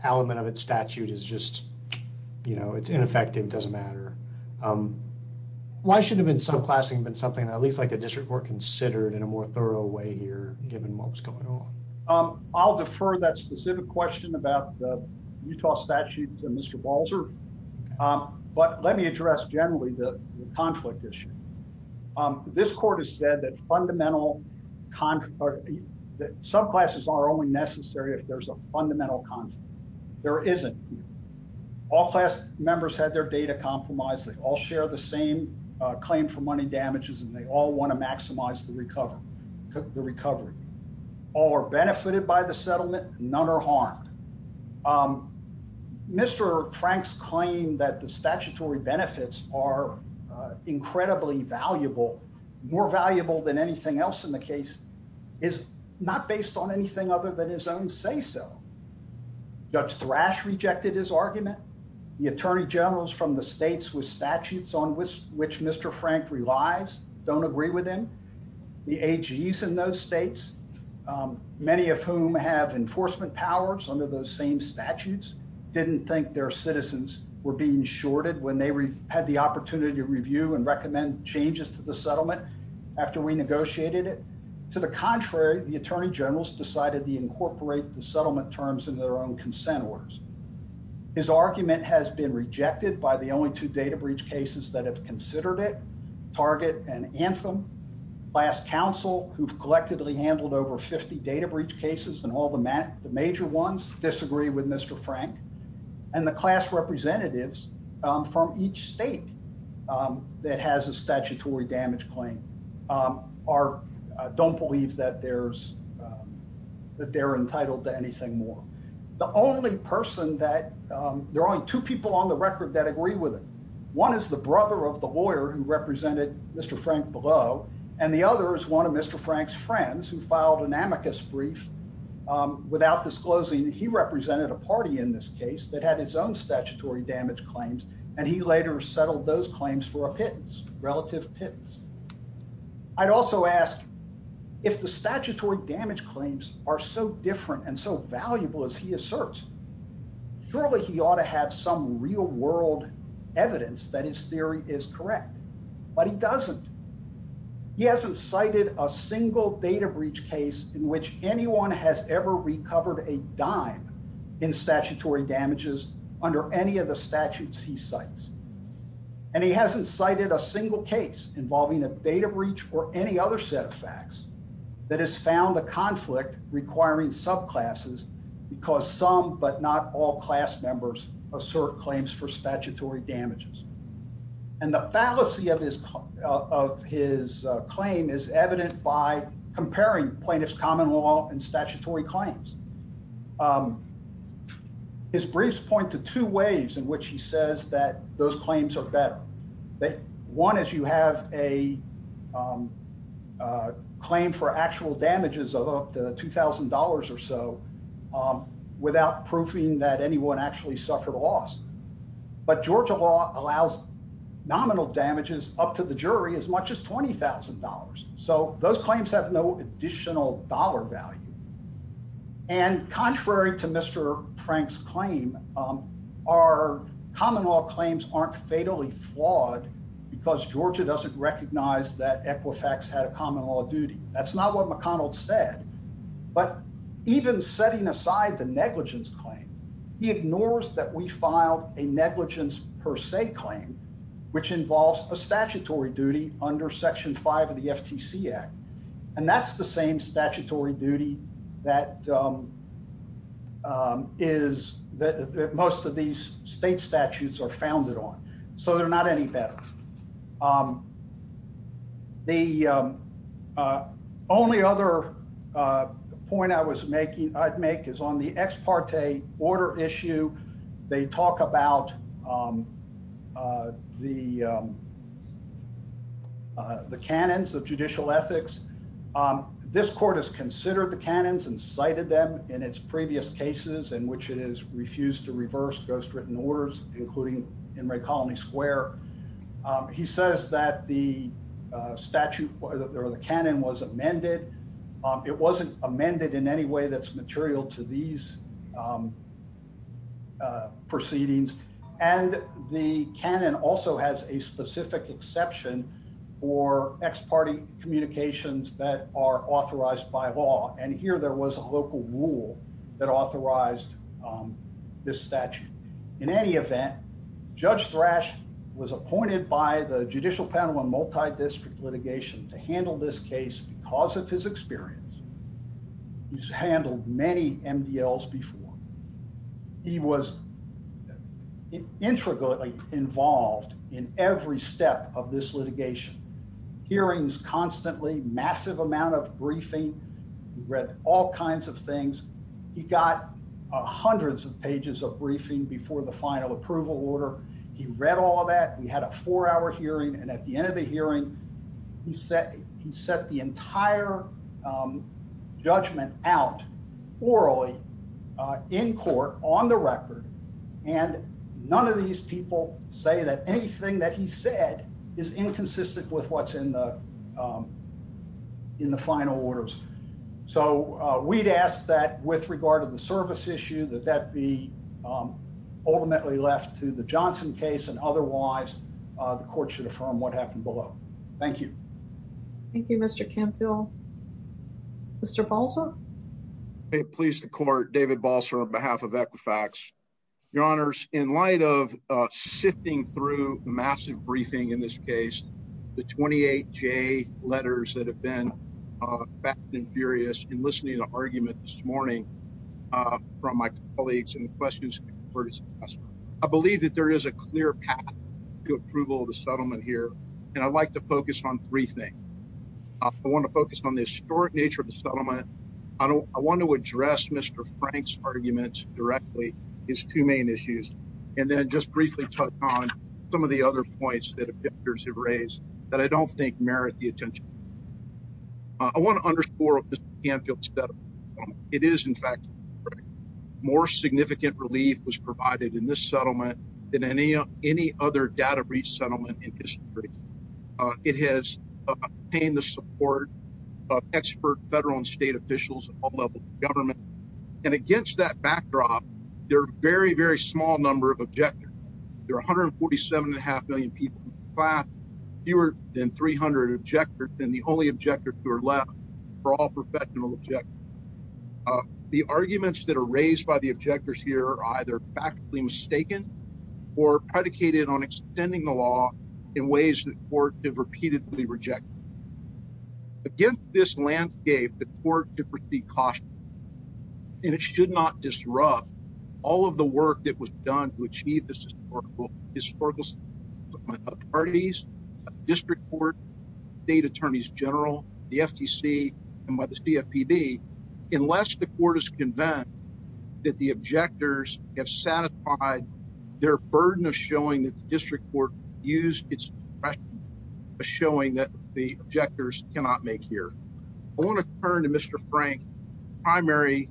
element of its statute is just, you know, it's ineffective, doesn't matter. Why shouldn't subclassing have been something that at least a district court considered in a more thorough way here, given what's going on? I'll defer that specific question about the Utah statute to Mr. Balzer. But let me address generally the conflict issue. This court has said that fundamental, that subclasses are only necessary if there's a fundamental conflict. There isn't. All class members had their data compromised. They all share the same claim for money damages, and they all want to maximize the recovery. All are benefited by the settlement, none are harmed. Mr. Frank's claim that the statutory benefits are incredibly valuable, more valuable than anything else in the case, is not based on anything other than his own say-so. Judge Thrash rejected his argument. The attorney generals from the states with statutes on which Mr. Frank relies don't agree with him. The AGs in those states, many of whom have enforcement powers under those same statutes, didn't think their citizens were being shorted when they had the opportunity to review and recommend changes to the settlement after we negotiated it. To the contrary, the attorney generals decided to incorporate the settlement terms in their own consent orders. His argument has been rejected by the only two data breach cases that have considered it, Target and Anthem. Last counsel, who've collectively handled over 50 data breach cases and all the major ones, disagree with Mr. Frank. And the class representatives from each state that has a statutory damage claim don't believe that they're entitled to anything more. The only person that, there are only two people on the record that agree with it. One is the brother of the lawyer who represented Mr. Frank below, and the other is one of Mr. Frank's friends who filed an amicus brief without disclosing that he represented a party in this case that had its own statutory damage claims, and he later settled those claims for a pittance, relative pittance. I'd also ask if the statutory damage claims are so different and so valuable as he asserts, surely he ought to have some real world evidence that his theory is correct, but he doesn't. He hasn't cited a single data breach case in which anyone has ever recovered a dime in statutory damages under any of the statutes he cites. And he hasn't cited a single case involving a data breach or any other set of facts that has found the conflict requiring subclasses because some, but not all class members assert claims for statutory damages. And the fallacy of his claim is evident by comparing plaintiff's common law and statutory claims. His briefs point to two ways in which he says that those claims are better. That one is you have a claim for actual damages of up to $2,000 or so without proofing that anyone actually suffered loss. But Georgia law allows nominal damages up to the jury as much as $20,000. So those claims have no additional dollar value. And contrary to Mr. Frank's claim, our common law claims aren't fatally flawed because Georgia doesn't recognize that Equifax had common law duty. That's not what McConnell said, but even setting aside the negligence claim, he ignores that we filed a negligence per se claim, which involves a statutory duty under section five of the FTC Act. And that's the same statutory duty that most of these state statutes are founded on. So they're not any better. The only other point I'd make is on the ex parte order issue, they talk about the canons of judicial ethics. This court has considered the canons and cited them in its previous cases in which it has refused to reverse those written orders, including in Ray Colony Square. He says that the statute or the canon was amended. It wasn't amended in any way that's material to these proceedings. And the canon also has a specific exception for ex parte communications that are authorized by law. And here there was a local rule that authorized this statute. In any event, Judge Thrash was appointed by the Judicial Panel on Multidistrict Litigation to handle this case because of his experience. He's handled many MDLs before. He was intricately involved in every step of this litigation. Hearings constantly, massive amount of briefing. He read all kinds of things. He got hundreds of pages of briefing before the final approval order. He read all of that. We had a four hour hearing. And at the end of the hearing, he set the entire judgment out orally in court on the record and none of these people say that anything that he said is inconsistent with what's in the final orders. So we'd ask that with regard to the service issue, that that be ultimately left to the Johnson case and otherwise the court should affirm what happened below. Thank you. Thank you, Mr. Canfield. Mr. Balser. Okay, please, the court. David Balser on behalf of Equifax. Your honors, in light of sifting through massive briefing in this case, the 28 J letters that have been back and furious in listening to arguments this morning from my colleagues and the questions were discussed. I believe that there is a clear path to approval of the settlement here. And I'd like to focus on three things. I want to focus on the historic nature of the settlement. I want to address Mr. Frank's arguments directly, his two main issues, and then just briefly touch on some of the other points that have been raised that I don't think merit the attention. I want to underscore Mr. Canfield's settlement. It is in fact, more significant relief was provided in this settlement than any other data breach settlement in history. It has obtained the support of expert federal and state officials at all levels of government. And against that backdrop, there are very, very small number of objectors. There are 147 and a half million people in the class, fewer than 300 objectors, and the only objectors who are left for all professional objectors. The arguments that are raised by the objectors here are either practically mistaken or predicated on extending the law in ways that courts have repeatedly rejected. Against this landscape, the court should proceed cautiously and it should not disrupt all of the work that was done to achieve this historical settlement by authorities, district court, state attorneys general, the FTC, and by the CFPB, unless the court is convinced that the objectors have satisfied their burden of showing that the district court used its discretion as showing that the objectors cannot make here. I want to turn to Mr. Frank's primary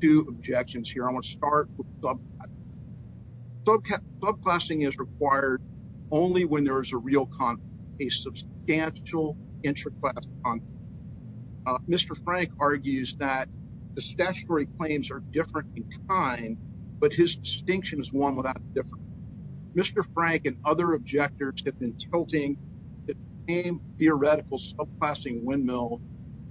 two objections here. I want to start with subclassing. Subclassing is required only when there is a real conflict, a substantial interclass conflict. Mr. Frank argues that the statutory claims are different in kind, but his distinction is one without difference. Mr. Frank and other objectors have been tilting the same theoretical subclassing windmill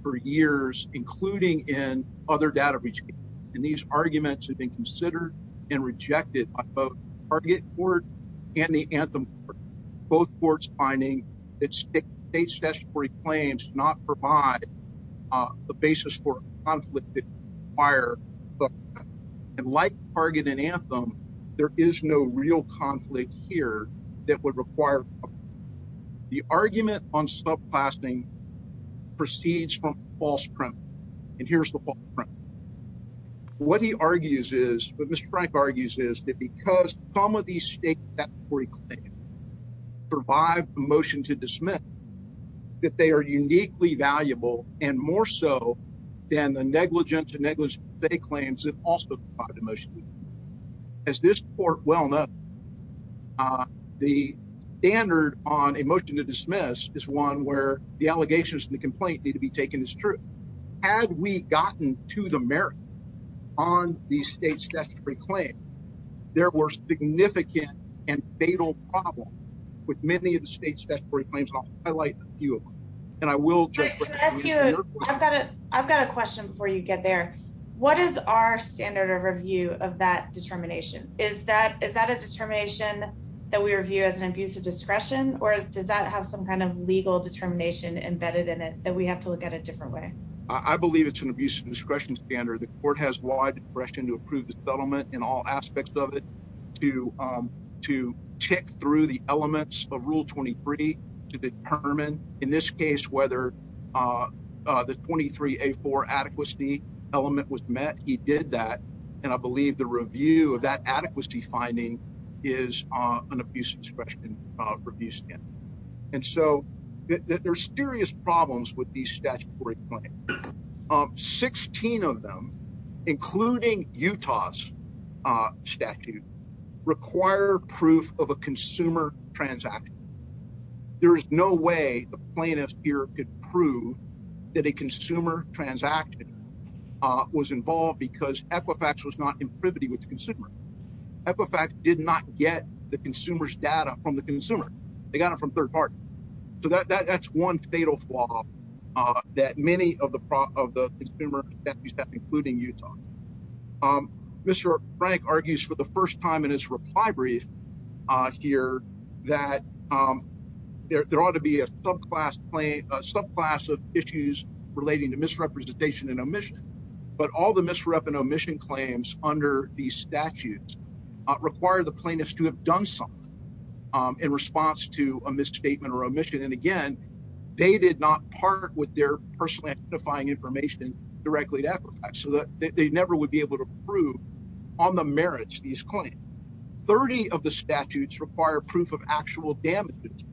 for years, including in other data regions, and these arguments have been considered and rejected by both the target court and the anthem court, both courts finding that state statutory claims do not provide the basis for conflict that requires subclassing. And like target and anthem, there is no real conflict here that would require subclassing. The argument on subclassing proceeds from false premise, and here's the false premise. What he argues is, what Mr. Frank argues is, that because some of these state statutory claims survive the motion to dismiss, that they are uniquely valuable, and more so than the negligent to negligent state claims that also provide the motion to dismiss. As this court well knows, the standard on a motion to dismiss is one where the allegations and the complaint need to be taken as true. Had we gotten to the merit on these state statutory claims, there were significant and fatal problems with many of the state statutory claims. I'll highlight a few of them, and I will- I've got a question before you get there. What is our standard of review of that determination? Is that a determination that we review as an abuse of discretion, or does that have some kind of legal determination embedded in it that we have to look at a different way? I believe it's an abuse of discretion standard. The court has wide discretion to approve the settlement and all aspects of it to check through the elements of Rule 23 to determine, in this case, whether the 23A4 adequacy element was met. He did that, and I believe the review of that adequacy finding is an abuse of discretion review standard. And so there's serious problems with these statutory claims. 16 of them, including Utah's statute, require proof of a consumer transaction. There is no way a plaintiff here could prove that a consumer transaction was involved because Equifax was not in privity with the consumer. Equifax did not get the consumer's data from the consumer. They got it from third parties. So that's one fatal flaw that many of the consumer statutes have, including Utah. Mr. Frank argues for the first time in his reply brief here that there ought to be a subclass of issues relating to misrepresentation and omission, but all the misrep and omission claims under these statutes require the plaintiffs to have done something in response to a misstatement or omission. And again, they did not part with their personal identifying information directly to Equifax, so that they never would be able to prove on the merits of these claims. 30 of the statutes require proof of actual damages,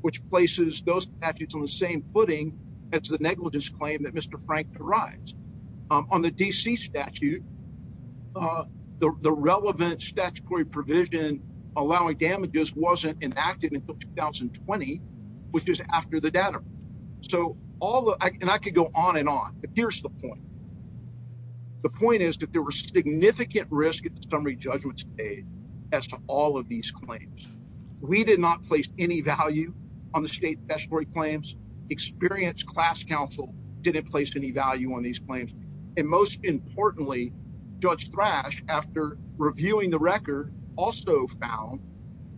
which places those statutes on the same footing as the negligence claim that Mr. Frank derives. On the D.C. statute, the relevant statutory provision allowing damages wasn't enacted until 2020, which is after the data. So all the, and I could go on and on, but here's the point. The point is that there was significant risk at the summary judgment stage as to all of these claims. We did not place any value on the state statutory claims. Experienced class counsel didn't place any value on these claims. And most importantly, Judge Thrash, after reviewing the record, also found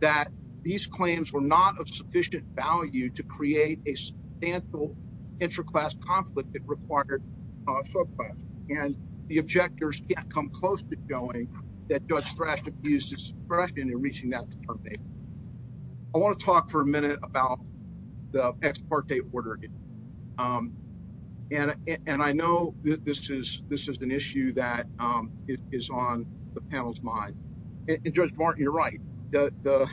that these claims were not of sufficient value to create a substantial inter-class conflict that required a subclass. And the objectors can't come close to showing that Judge Thrash refused to express in reaching that determination. I wanna talk for a minute about the ex parte order. And I know that this is an issue that is on the panel's mind. And Judge Martin, you're right, that the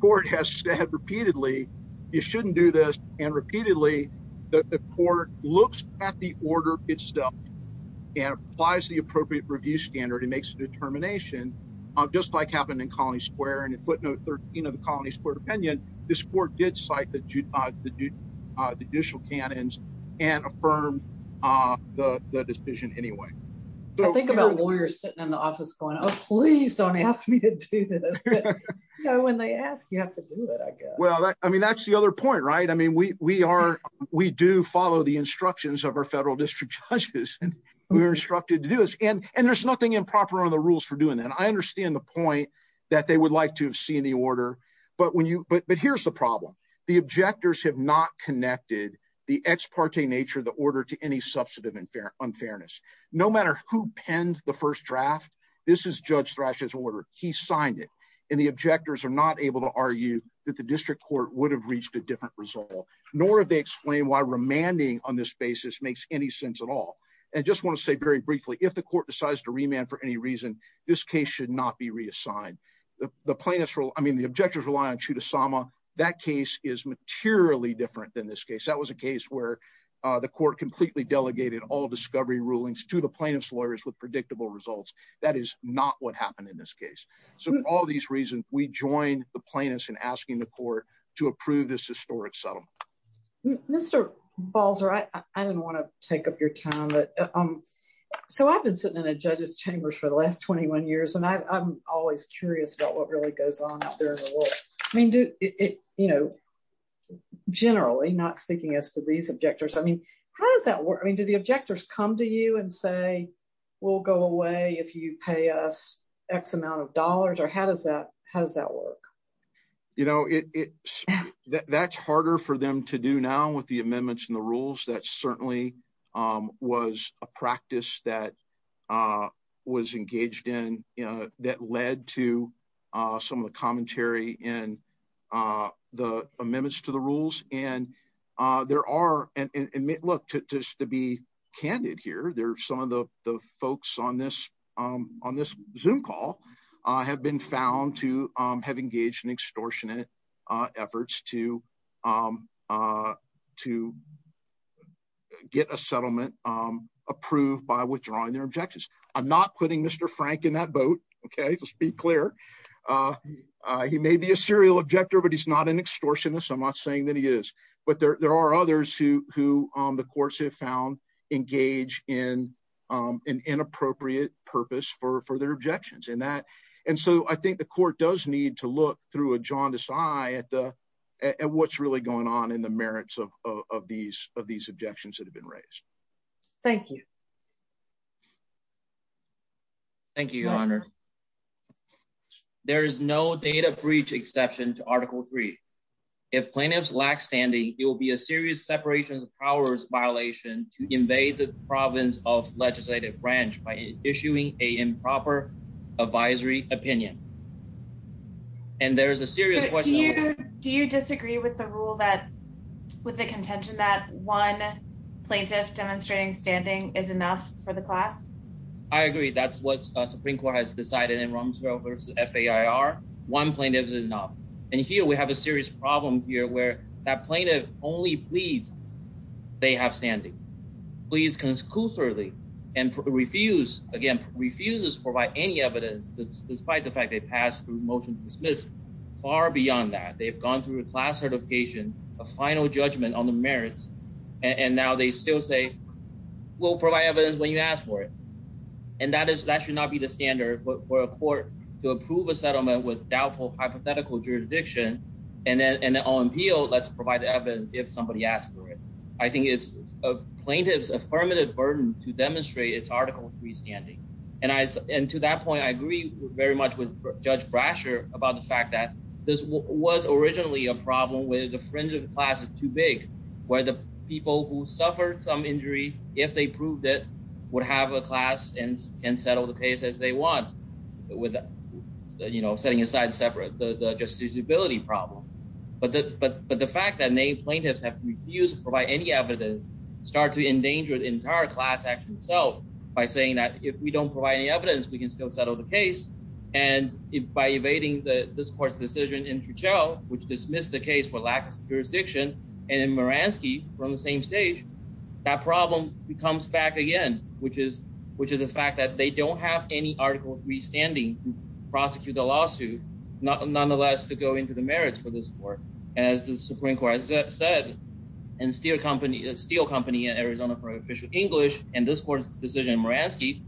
court has said repeatedly, you shouldn't do this. And repeatedly, the court looks at the order itself and applies the appropriate review standard and makes a determination, just like happened in Colony Square. And in footnote 13 of the Colony Square opinion, this court did cite the judicial canons and affirmed the decision anyway. So- Please don't ask me to do this. You know, when they ask, you have to do it, I guess. Well, I mean, that's the other point, right? I mean, we do follow the instructions of our federal district judges. We were instructed to do this. And there's nothing improper on the rules for doing that. I understand the point that they would like to have seen the order, but here's the problem. The objectors have not connected the ex parte nature of the order to any substantive unfairness. No matter who penned the first draft, this is Judge Thrash's order. He signed it. And the objectors are not able to argue that the district court would have reached a different result, nor have they explained why remanding on this basis makes any sense at all. And I just want to say very briefly, if the court decides to remand for any reason, this case should not be reassigned. The plaintiffs, I mean, the objectors rely on Chudasama. That case is materially different than this case. That was a case where the court completely delegated all discovery rulings to the plaintiff's lawyers with predictable results. That is not what happened in this case. So for all these reasons, we joined the plaintiffs in asking the court to approve this historic settlement. Mr. Balzer, I didn't want to take up your time, but so I've been sitting in a judge's chambers for the last 21 years, and I'm always curious about what really goes on out there in the world. I mean, you know, generally, not speaking as to these objectors, I mean, how does that work? I mean, do the objectors come to you and say, we'll go away if you pay us X amount of dollars, or how does that work? You know, that's harder for them to do now with the amendments and the rules. That certainly was a practice that was engaged in, that led to some of the commentary and the amendments to the rules. And there are, and look, just to be candid here, there are some of the folks on this Zoom call have been found to have engaged in extortionate efforts to get a settlement approved by withdrawing their objections. I'm not putting Mr. Frank in that boat, okay? Just to be clear. He may be a serial objector, but he's not an extortionist. I'm not saying that he is, but there are others who the courts have found engage in an inappropriate purpose for their objections. And so I think the court does need to look through a jaundiced eye at what's really going on in the merits of these objections that have been raised. Thank you. Thank you, Your Honor. There is no date of breach exception to Article III. If plaintiffs lack standing, it will be a serious separation of powers violation to invade the province of legislative branch by issuing a improper advisory opinion. And there is a serious question- Do you disagree with the rule that, with the contention that one plaintiff demonstrating standing is enough for the class? I agree. That's what the Supreme Court has decided in Rumsfeld v. FAIR. One plaintiff is enough. And here we have a serious problem here where that plaintiff only pleads they have standing. Pleads conclusively and refuse, again, refuses to provide any evidence despite the fact they passed through motion to dismiss far beyond that. They've gone through a class certification, a final judgment on the merits, and now they still say, we'll provide evidence when you ask for it. And that should not be the standard for a court to approve a settlement with doubtful hypothetical jurisdiction and then on appeal, let's provide the evidence if somebody asks for it. I think it's a plaintiff's affirmative burden to demonstrate it's article three standing. And to that point, I agree very much with Judge Brasher about the fact that this was originally a problem where the fringes of the class is too big, where the people who suffered some injury, if they proved it, would have a class and settle the case as they want without setting aside separate, the justiciability problem. But the fact that many plaintiffs have refused to provide any evidence starts to endanger the entire class action itself by saying that if we don't provide any evidence, we can still settle the case. And by evading this court's decision in Tuchel, which dismissed the case for lack of jurisdiction, and in Maransky, from the same stage, that problem comes back again, which is the fact that they don't have any article three standing to prosecute the lawsuit, nonetheless, to go into the merits for this court. As the Supreme Court has said, and Steel Company in Arizona for official English, and this court's decision in Maransky,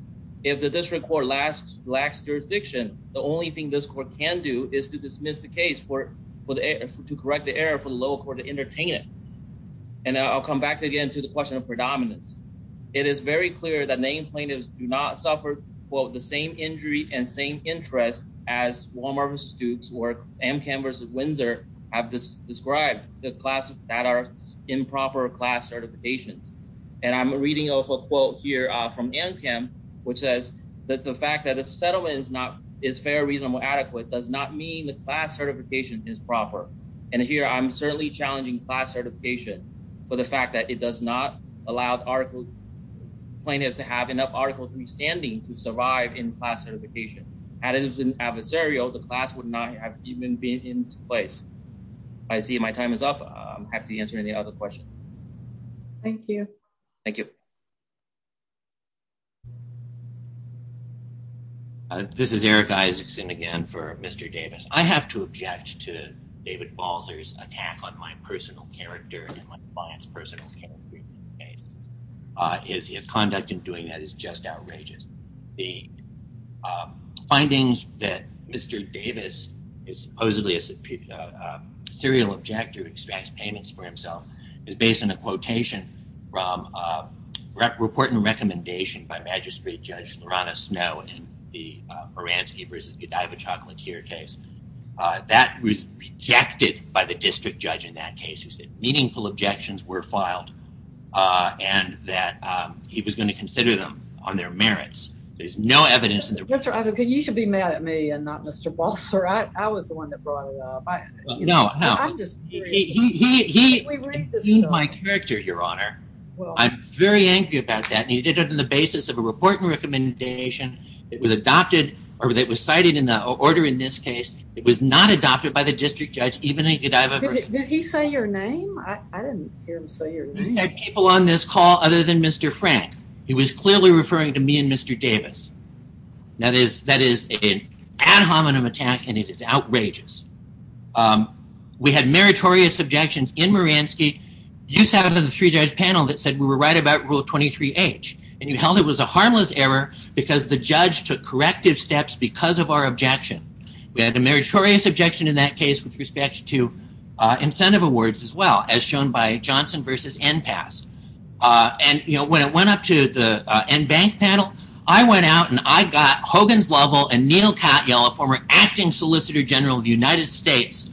if the district court lacks jurisdiction, the only thing this court can do is to dismiss the case to correct the error for the lower court to entertain it. And I'll come back again to the question of predominance. It is very clear that many plaintiffs do not suffer, quote, the same injury and same interest as Walmart Institute's work, Amchem versus Windsor, have described the classes that are improper class certifications. And I'm reading also a quote here from Amchem, which says that the fact that a settlement is fair, reasonable, adequate, does not mean the class certification is proper. And here, I'm certainly challenging class certification for the fact that it does not allow the plaintiff to have enough articles in standing to survive in class certification. Added as an adversarial, the class would not have even been in place. I see my time is up. I'm happy to answer any other questions. Thank you. Thank you. This is Eric Isaacson again for Mr. Davis. I have to object to David Balzer's attack on my personal character and my client's personal character. His conduct in doing that is just outrageous. The findings that Mr. Davis is supposedly a serial objector who extracts payments for himself is based on a quotation from a report and recommendation by Magistrate Judge Lorana Snow in the Baranski versus Godivich-Hartman-Steer case. That was rejected by the district judge in that case that meaningful objections were filed and that he was gonna consider them on their merits. There's no evidence- Mr. Isaacson, you should be mad at me and not Mr. Balzer. I was the one that brought it up. No, no. I'm just- He, he, he- We've reached the- He's my character, Your Honor. Well- I'm very angry about that. And he did it on the basis of a report and recommendation. It was adopted or it was cited in the order in this case. It was not adopted by the district judge even though Godivich- Did he say your name? I didn't hear him say your name. There's people on this call other than Mr. Frank. He was clearly referring to me and Mr. Davis. That is, that is an ad hominem attack and it is outrageous. We had meritorious objections in Maranski. You sat on the three-judge panel that said we were right about Rule 23H and you held it was a harmless error because the judge took corrective steps because of our objection. We had a meritorious objection in that case with respect to incentive awards as well as shown by Johnson versus Enpass. And when it went up to the Enbank panel, I went out and I got Hogan's Lovell and Neil Katyal, a former acting Solicitor General of the United States,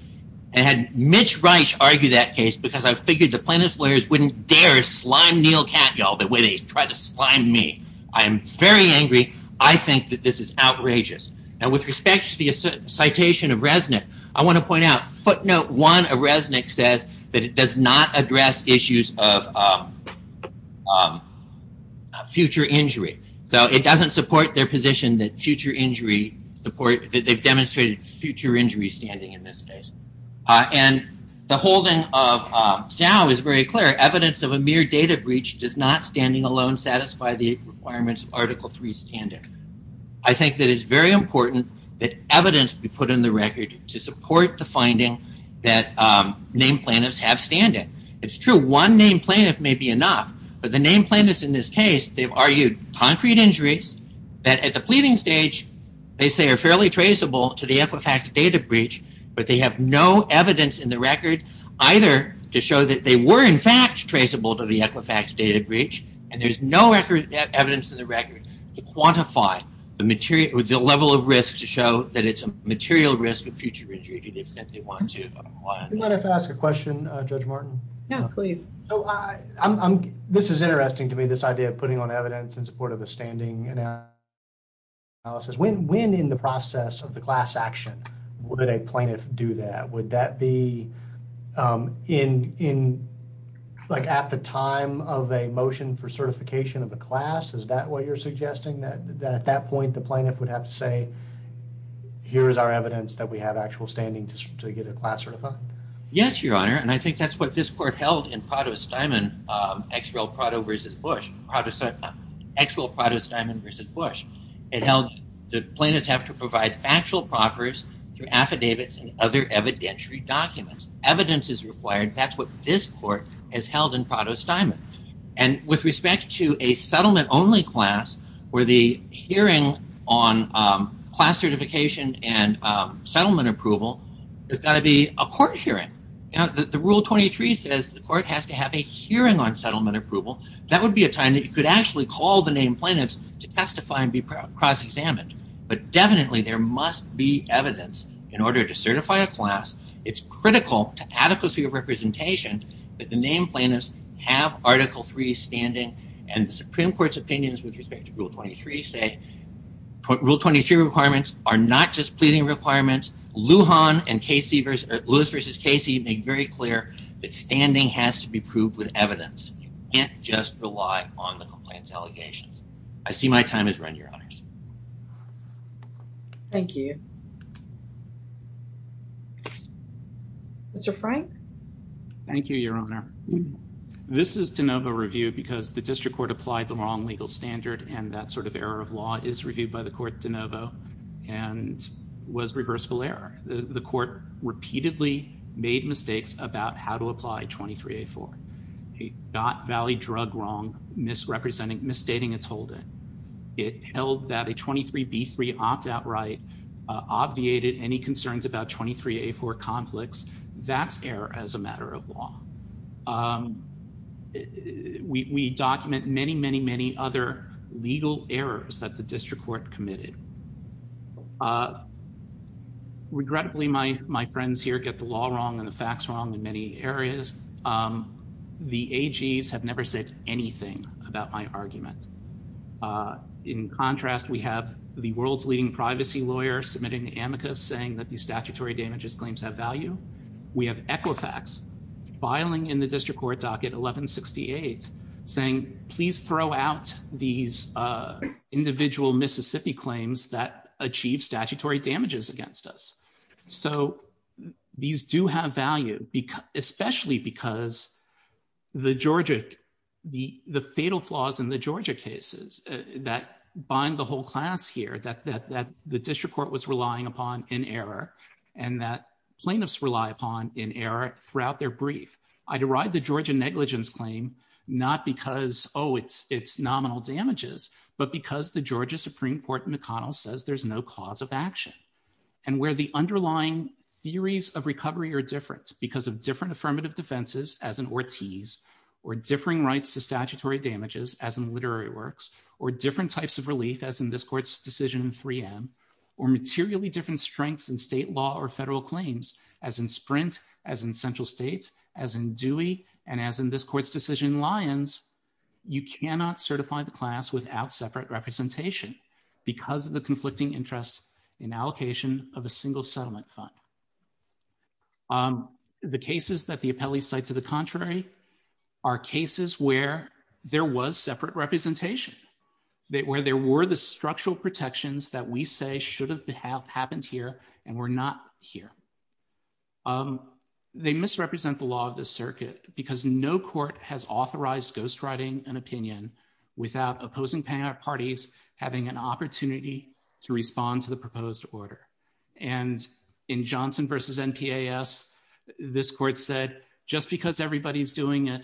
and had Mitch Reich argue that case because I figured the plaintiff's lawyers wouldn't dare slime Neil Katyal the way they tried to slime me. I'm very angry. I think that this is outrageous. And with respect to the citation of Resnick, I want to point out footnote one of Resnick says that it does not address issues of future injury. So it doesn't support their position that future injury support, that they've demonstrated future injury standing in this case. And the holding of Xiao is very clear. Evidence of a mere data breach does not, standing alone, satisfy the requirements of Article III standard. I think that it's very important that evidence be put in the record to support the finding that name plaintiffs have standing. It's true one name plaintiff may be enough, but the name plaintiffs in this case, they've argued concrete injuries that at the pleading stage, they say are fairly traceable to the Equifax data breach, but they have no evidence in the record either to show that they were in fact traceable to the Equifax data breach. And there's no record evidence to the record to quantify the level of risk to show that it's a material risk of future injury that they want to. Would you mind if I ask a question, Judge Martin? No, please. This is interesting to me, this idea of putting on evidence in support of the standing analysis. When in the process of the class action would a plaintiff do that? Would that be at the time of a motion for certification of the class? Is that what you're suggesting? That at that point, the plaintiff would have to say, here's our evidence that we have actual standing to get a class certified? Yes, Your Honor. And I think that's what this court held in Prado-Steinman, actual Prado-Steinman versus Bush. It held that plaintiffs have to provide actual proffers to affidavits and other evidentiary documents. Evidence is required. That's what this court has held in Prado-Steinman. And with respect to a settlement only class, where the hearing on class certification and settlement approval, there's gotta be a court hearing. The rule 23 says the court has to have a hearing on settlement approval. That would be a time that you could actually call the named plaintiffs to testify and be cross-examined. But definitely there must be evidence in order to certify a class. It's critical to adequacy of representation that the named plaintiffs have Article III standing and the Supreme Court's opinions with respect to Rule 23 say, Rule 23 requirements are not just pleading requirements. Lujan and Lewis versus Casey made very clear that standing has to be proved with evidence. You can't just rely on the complaint allegations. I see my time is run, Your Honors. Thank you. Mr. Frank. Thank you, Your Honor. This is de novo review because the District Court applied the wrong legal standard and that sort of error of law is reviewed by the court de novo and was reversible error. The court repeatedly made mistakes about how to apply 23-A4. He got Valley Drug wrong, misrepresenting, misstating its holding. It held that a 23-B3 opt-out right obviated any concerns about 23-A4 conflicts. That's error as a matter of law. We document many, many, many other legal errors that the District Court committed. Regrettably, my friends here get the law wrong and the facts wrong in many areas. The AGs have never said anything about my argument. In contrast, we have the world's leading privacy lawyer submitting amicus saying that the statutory damages claims have value. We have Equifax filing in the District Court docket 1168 saying, please throw out these individual Mississippi claims that achieve statutory damages against us. So these do have value, especially because the Georgia, the fatal flaws in the Georgia cases that bind the whole class here that the District Court was relying upon in error and that plaintiffs rely upon in error throughout their brief. I derive the Georgia negligence claim not because, oh, it's nominal damages, but because the Georgia Supreme Court in O'Connell says there's no cause of action. And where the underlying theories of recovery are different because of different affirmative defenses as in Ortiz or differing rights to statutory damages as in literary works, or different types of relief as in this court's decision in 3M, or materially different strengths in state law or federal claims as in Sprint, as in Central States, as in Dewey, and as in this court's decision in Lyons, you cannot certify the class without separate representation because of the conflicting interests in allocation of a single settlement fund. The cases that the appellees cite to the contrary are cases where there was separate representation, where there were the structural protections that we say should have happened here and were not here. They misrepresent the law of the circuit because no court has authorized ghostwriting an opinion without opposing parties having an opportunity to respond to the proposed order. And in Johnson v. NPAS, this court said, just because everybody's doing it,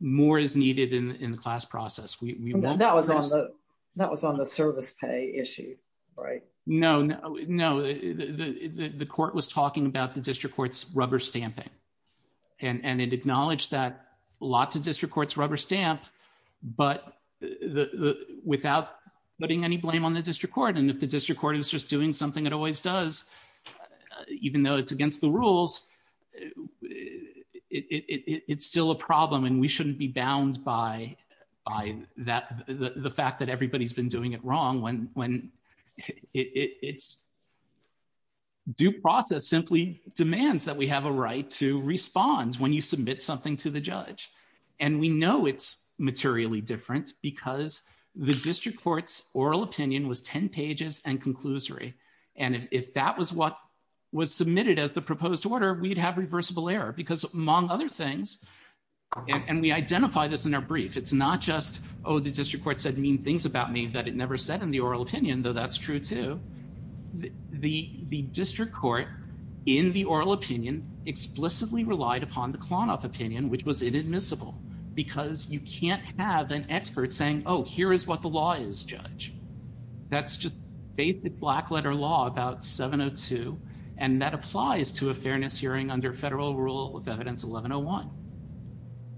more is needed in the class process. That was on the service pay issue, right? No, no, the court was talking about the district court's rubber stamping. And it acknowledged that lots of district courts rubber stamped, but without putting any blame on the district court. And if the district court is just doing something it always does, even though it's against the rules, it's still a problem and we shouldn't be bound by the fact that everybody's been doing it wrong when it's due process simply demands that we have a right to respond when you submit something to the judge. And we know it's materially different because the district court's oral opinion was 10 pages and conclusory. And if that was what was submitted as the proposed order, we'd have reversible error because among other things, and we identify this in our brief. It's not just, oh, the district court said mean things about me, but it never said in the oral opinion, though that's true too. The district court in the oral opinion explicitly relied upon the Klonoff opinion, which was inadmissible because you can't have an expert saying, oh, here is what the law is judge. That's just basic black letter law about 702. And that applies to a fairness hearing under federal rule of evidence 1101.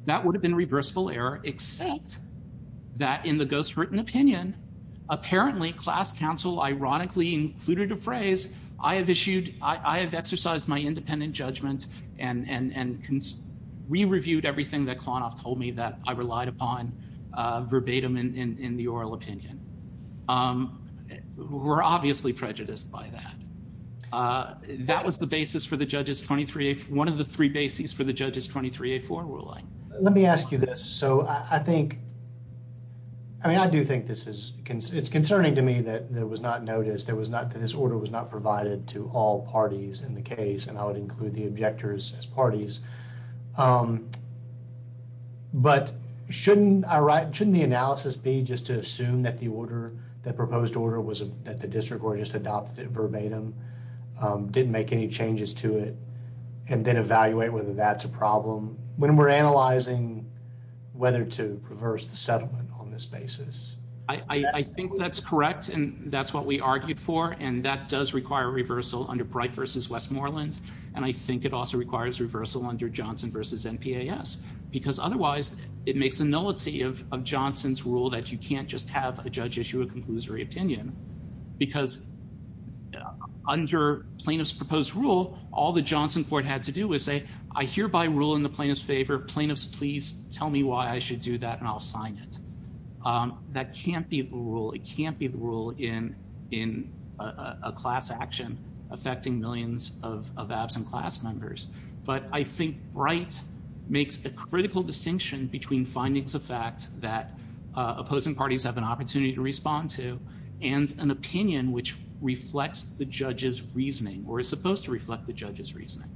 That would have been reversible error, except that in the ghost written opinion, apparently class counsel ironically included a phrase, I have exercised my independent judgment and we reviewed everything that Klonoff told me that I relied upon verbatim in the oral opinion. We're obviously prejudiced by that. That was the basis for the judges 23, one of the three bases for the judges 23A4 ruling. Let me ask you this. So I think, I mean, I do think this is, it's concerning to me that it was not noticed. There was not, this order was not provided to all parties in the case and I would include the objectors as parties. But shouldn't I write, shouldn't the analysis be just to assume that the order, that proposed order was that the district were just adopted verbatim, didn't make any changes to it and then evaluate whether that's a problem when we're analyzing whether to reverse the settlement on this basis? I think that's correct and that's what we argued for. And that does require reversal under Bright versus Westmoreland. And I think it also requires reversal under Johnson versus NPAS because otherwise it makes a nullity of Johnson's rule that you can't just have a judge issue a conclusory opinion because under plaintiff's proposed rule, all the Johnson court had to do was say, I hereby rule in the plaintiff's favor. Plaintiffs, please tell me why I should do that and I'll sign it. That can't be the rule. It can't be the rule in a class action affecting millions of absent class members. But I think Bright makes a critical distinction between findings of fact that opposing parties have an opportunity to respond to and an opinion which reflects the judge's reasoning or is supposed to reflect the judge's reasoning.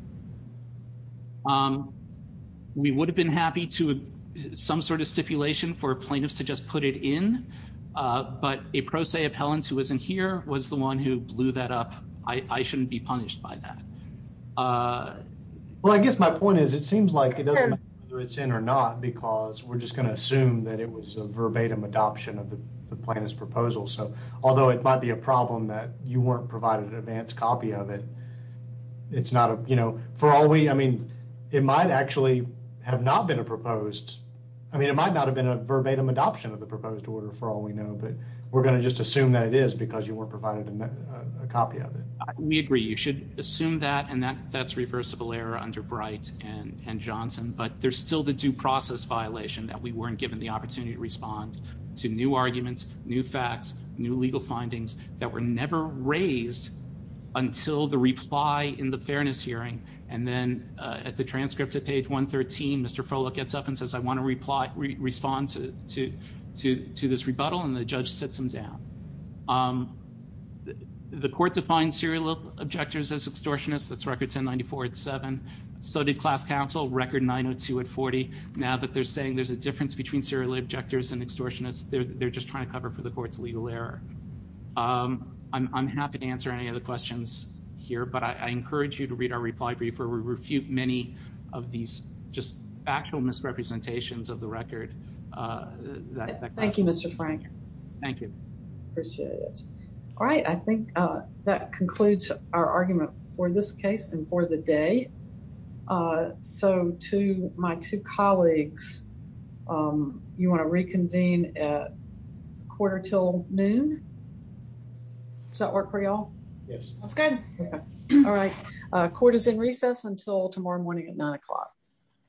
We would have been happy to some sort of stipulation for plaintiffs to just put it in, but a pro se appellant who wasn't here was the one who blew that up. I shouldn't be punished by that. Well, I guess my point is, it seems like it doesn't matter whether it's in or not because we're just gonna assume that it was a verbatim adoption of the plaintiff's proposal. So although it might be a problem that you weren't provided an advance copy of it, it's not a, you know, for all we, I mean, it might actually have not been a proposed. I mean, it might not have been a verbatim adoption of the proposed order for all we know, but we're gonna just assume that it is because you weren't provided a copy of it. We agree. You should assume that and that's reversible error under Bright and Johnson, but there's still the due process violation that we weren't given the opportunity to respond to new arguments, new facts, new legal findings that were never raised until the reply in the fairness hearing. And then at the transcript of page 113, Mr. Frohloff gets up and says, I wanna respond to this rebuttal and the judge sits him down. The court defined serial objectors as extortionists. That's record 1094 and seven. So did class counsel record 902 and 40. Now that they're saying there's a difference between serial objectors and extortionists, they're just trying to cover for the court's legal error. I'm happy to answer any other questions here, but I encourage you to read our reply briefer. We refute many of these just actual misrepresentations of the record. Thank you, Mr. Frank. Thank you. Appreciate it. All right, I think that concludes our argument for this case and for the day. So to my two colleagues, you wanna reconvene at quarter till noon? Does that work for y'all? Yes. That's good. All right, court is in recess until tomorrow morning at nine o'clock.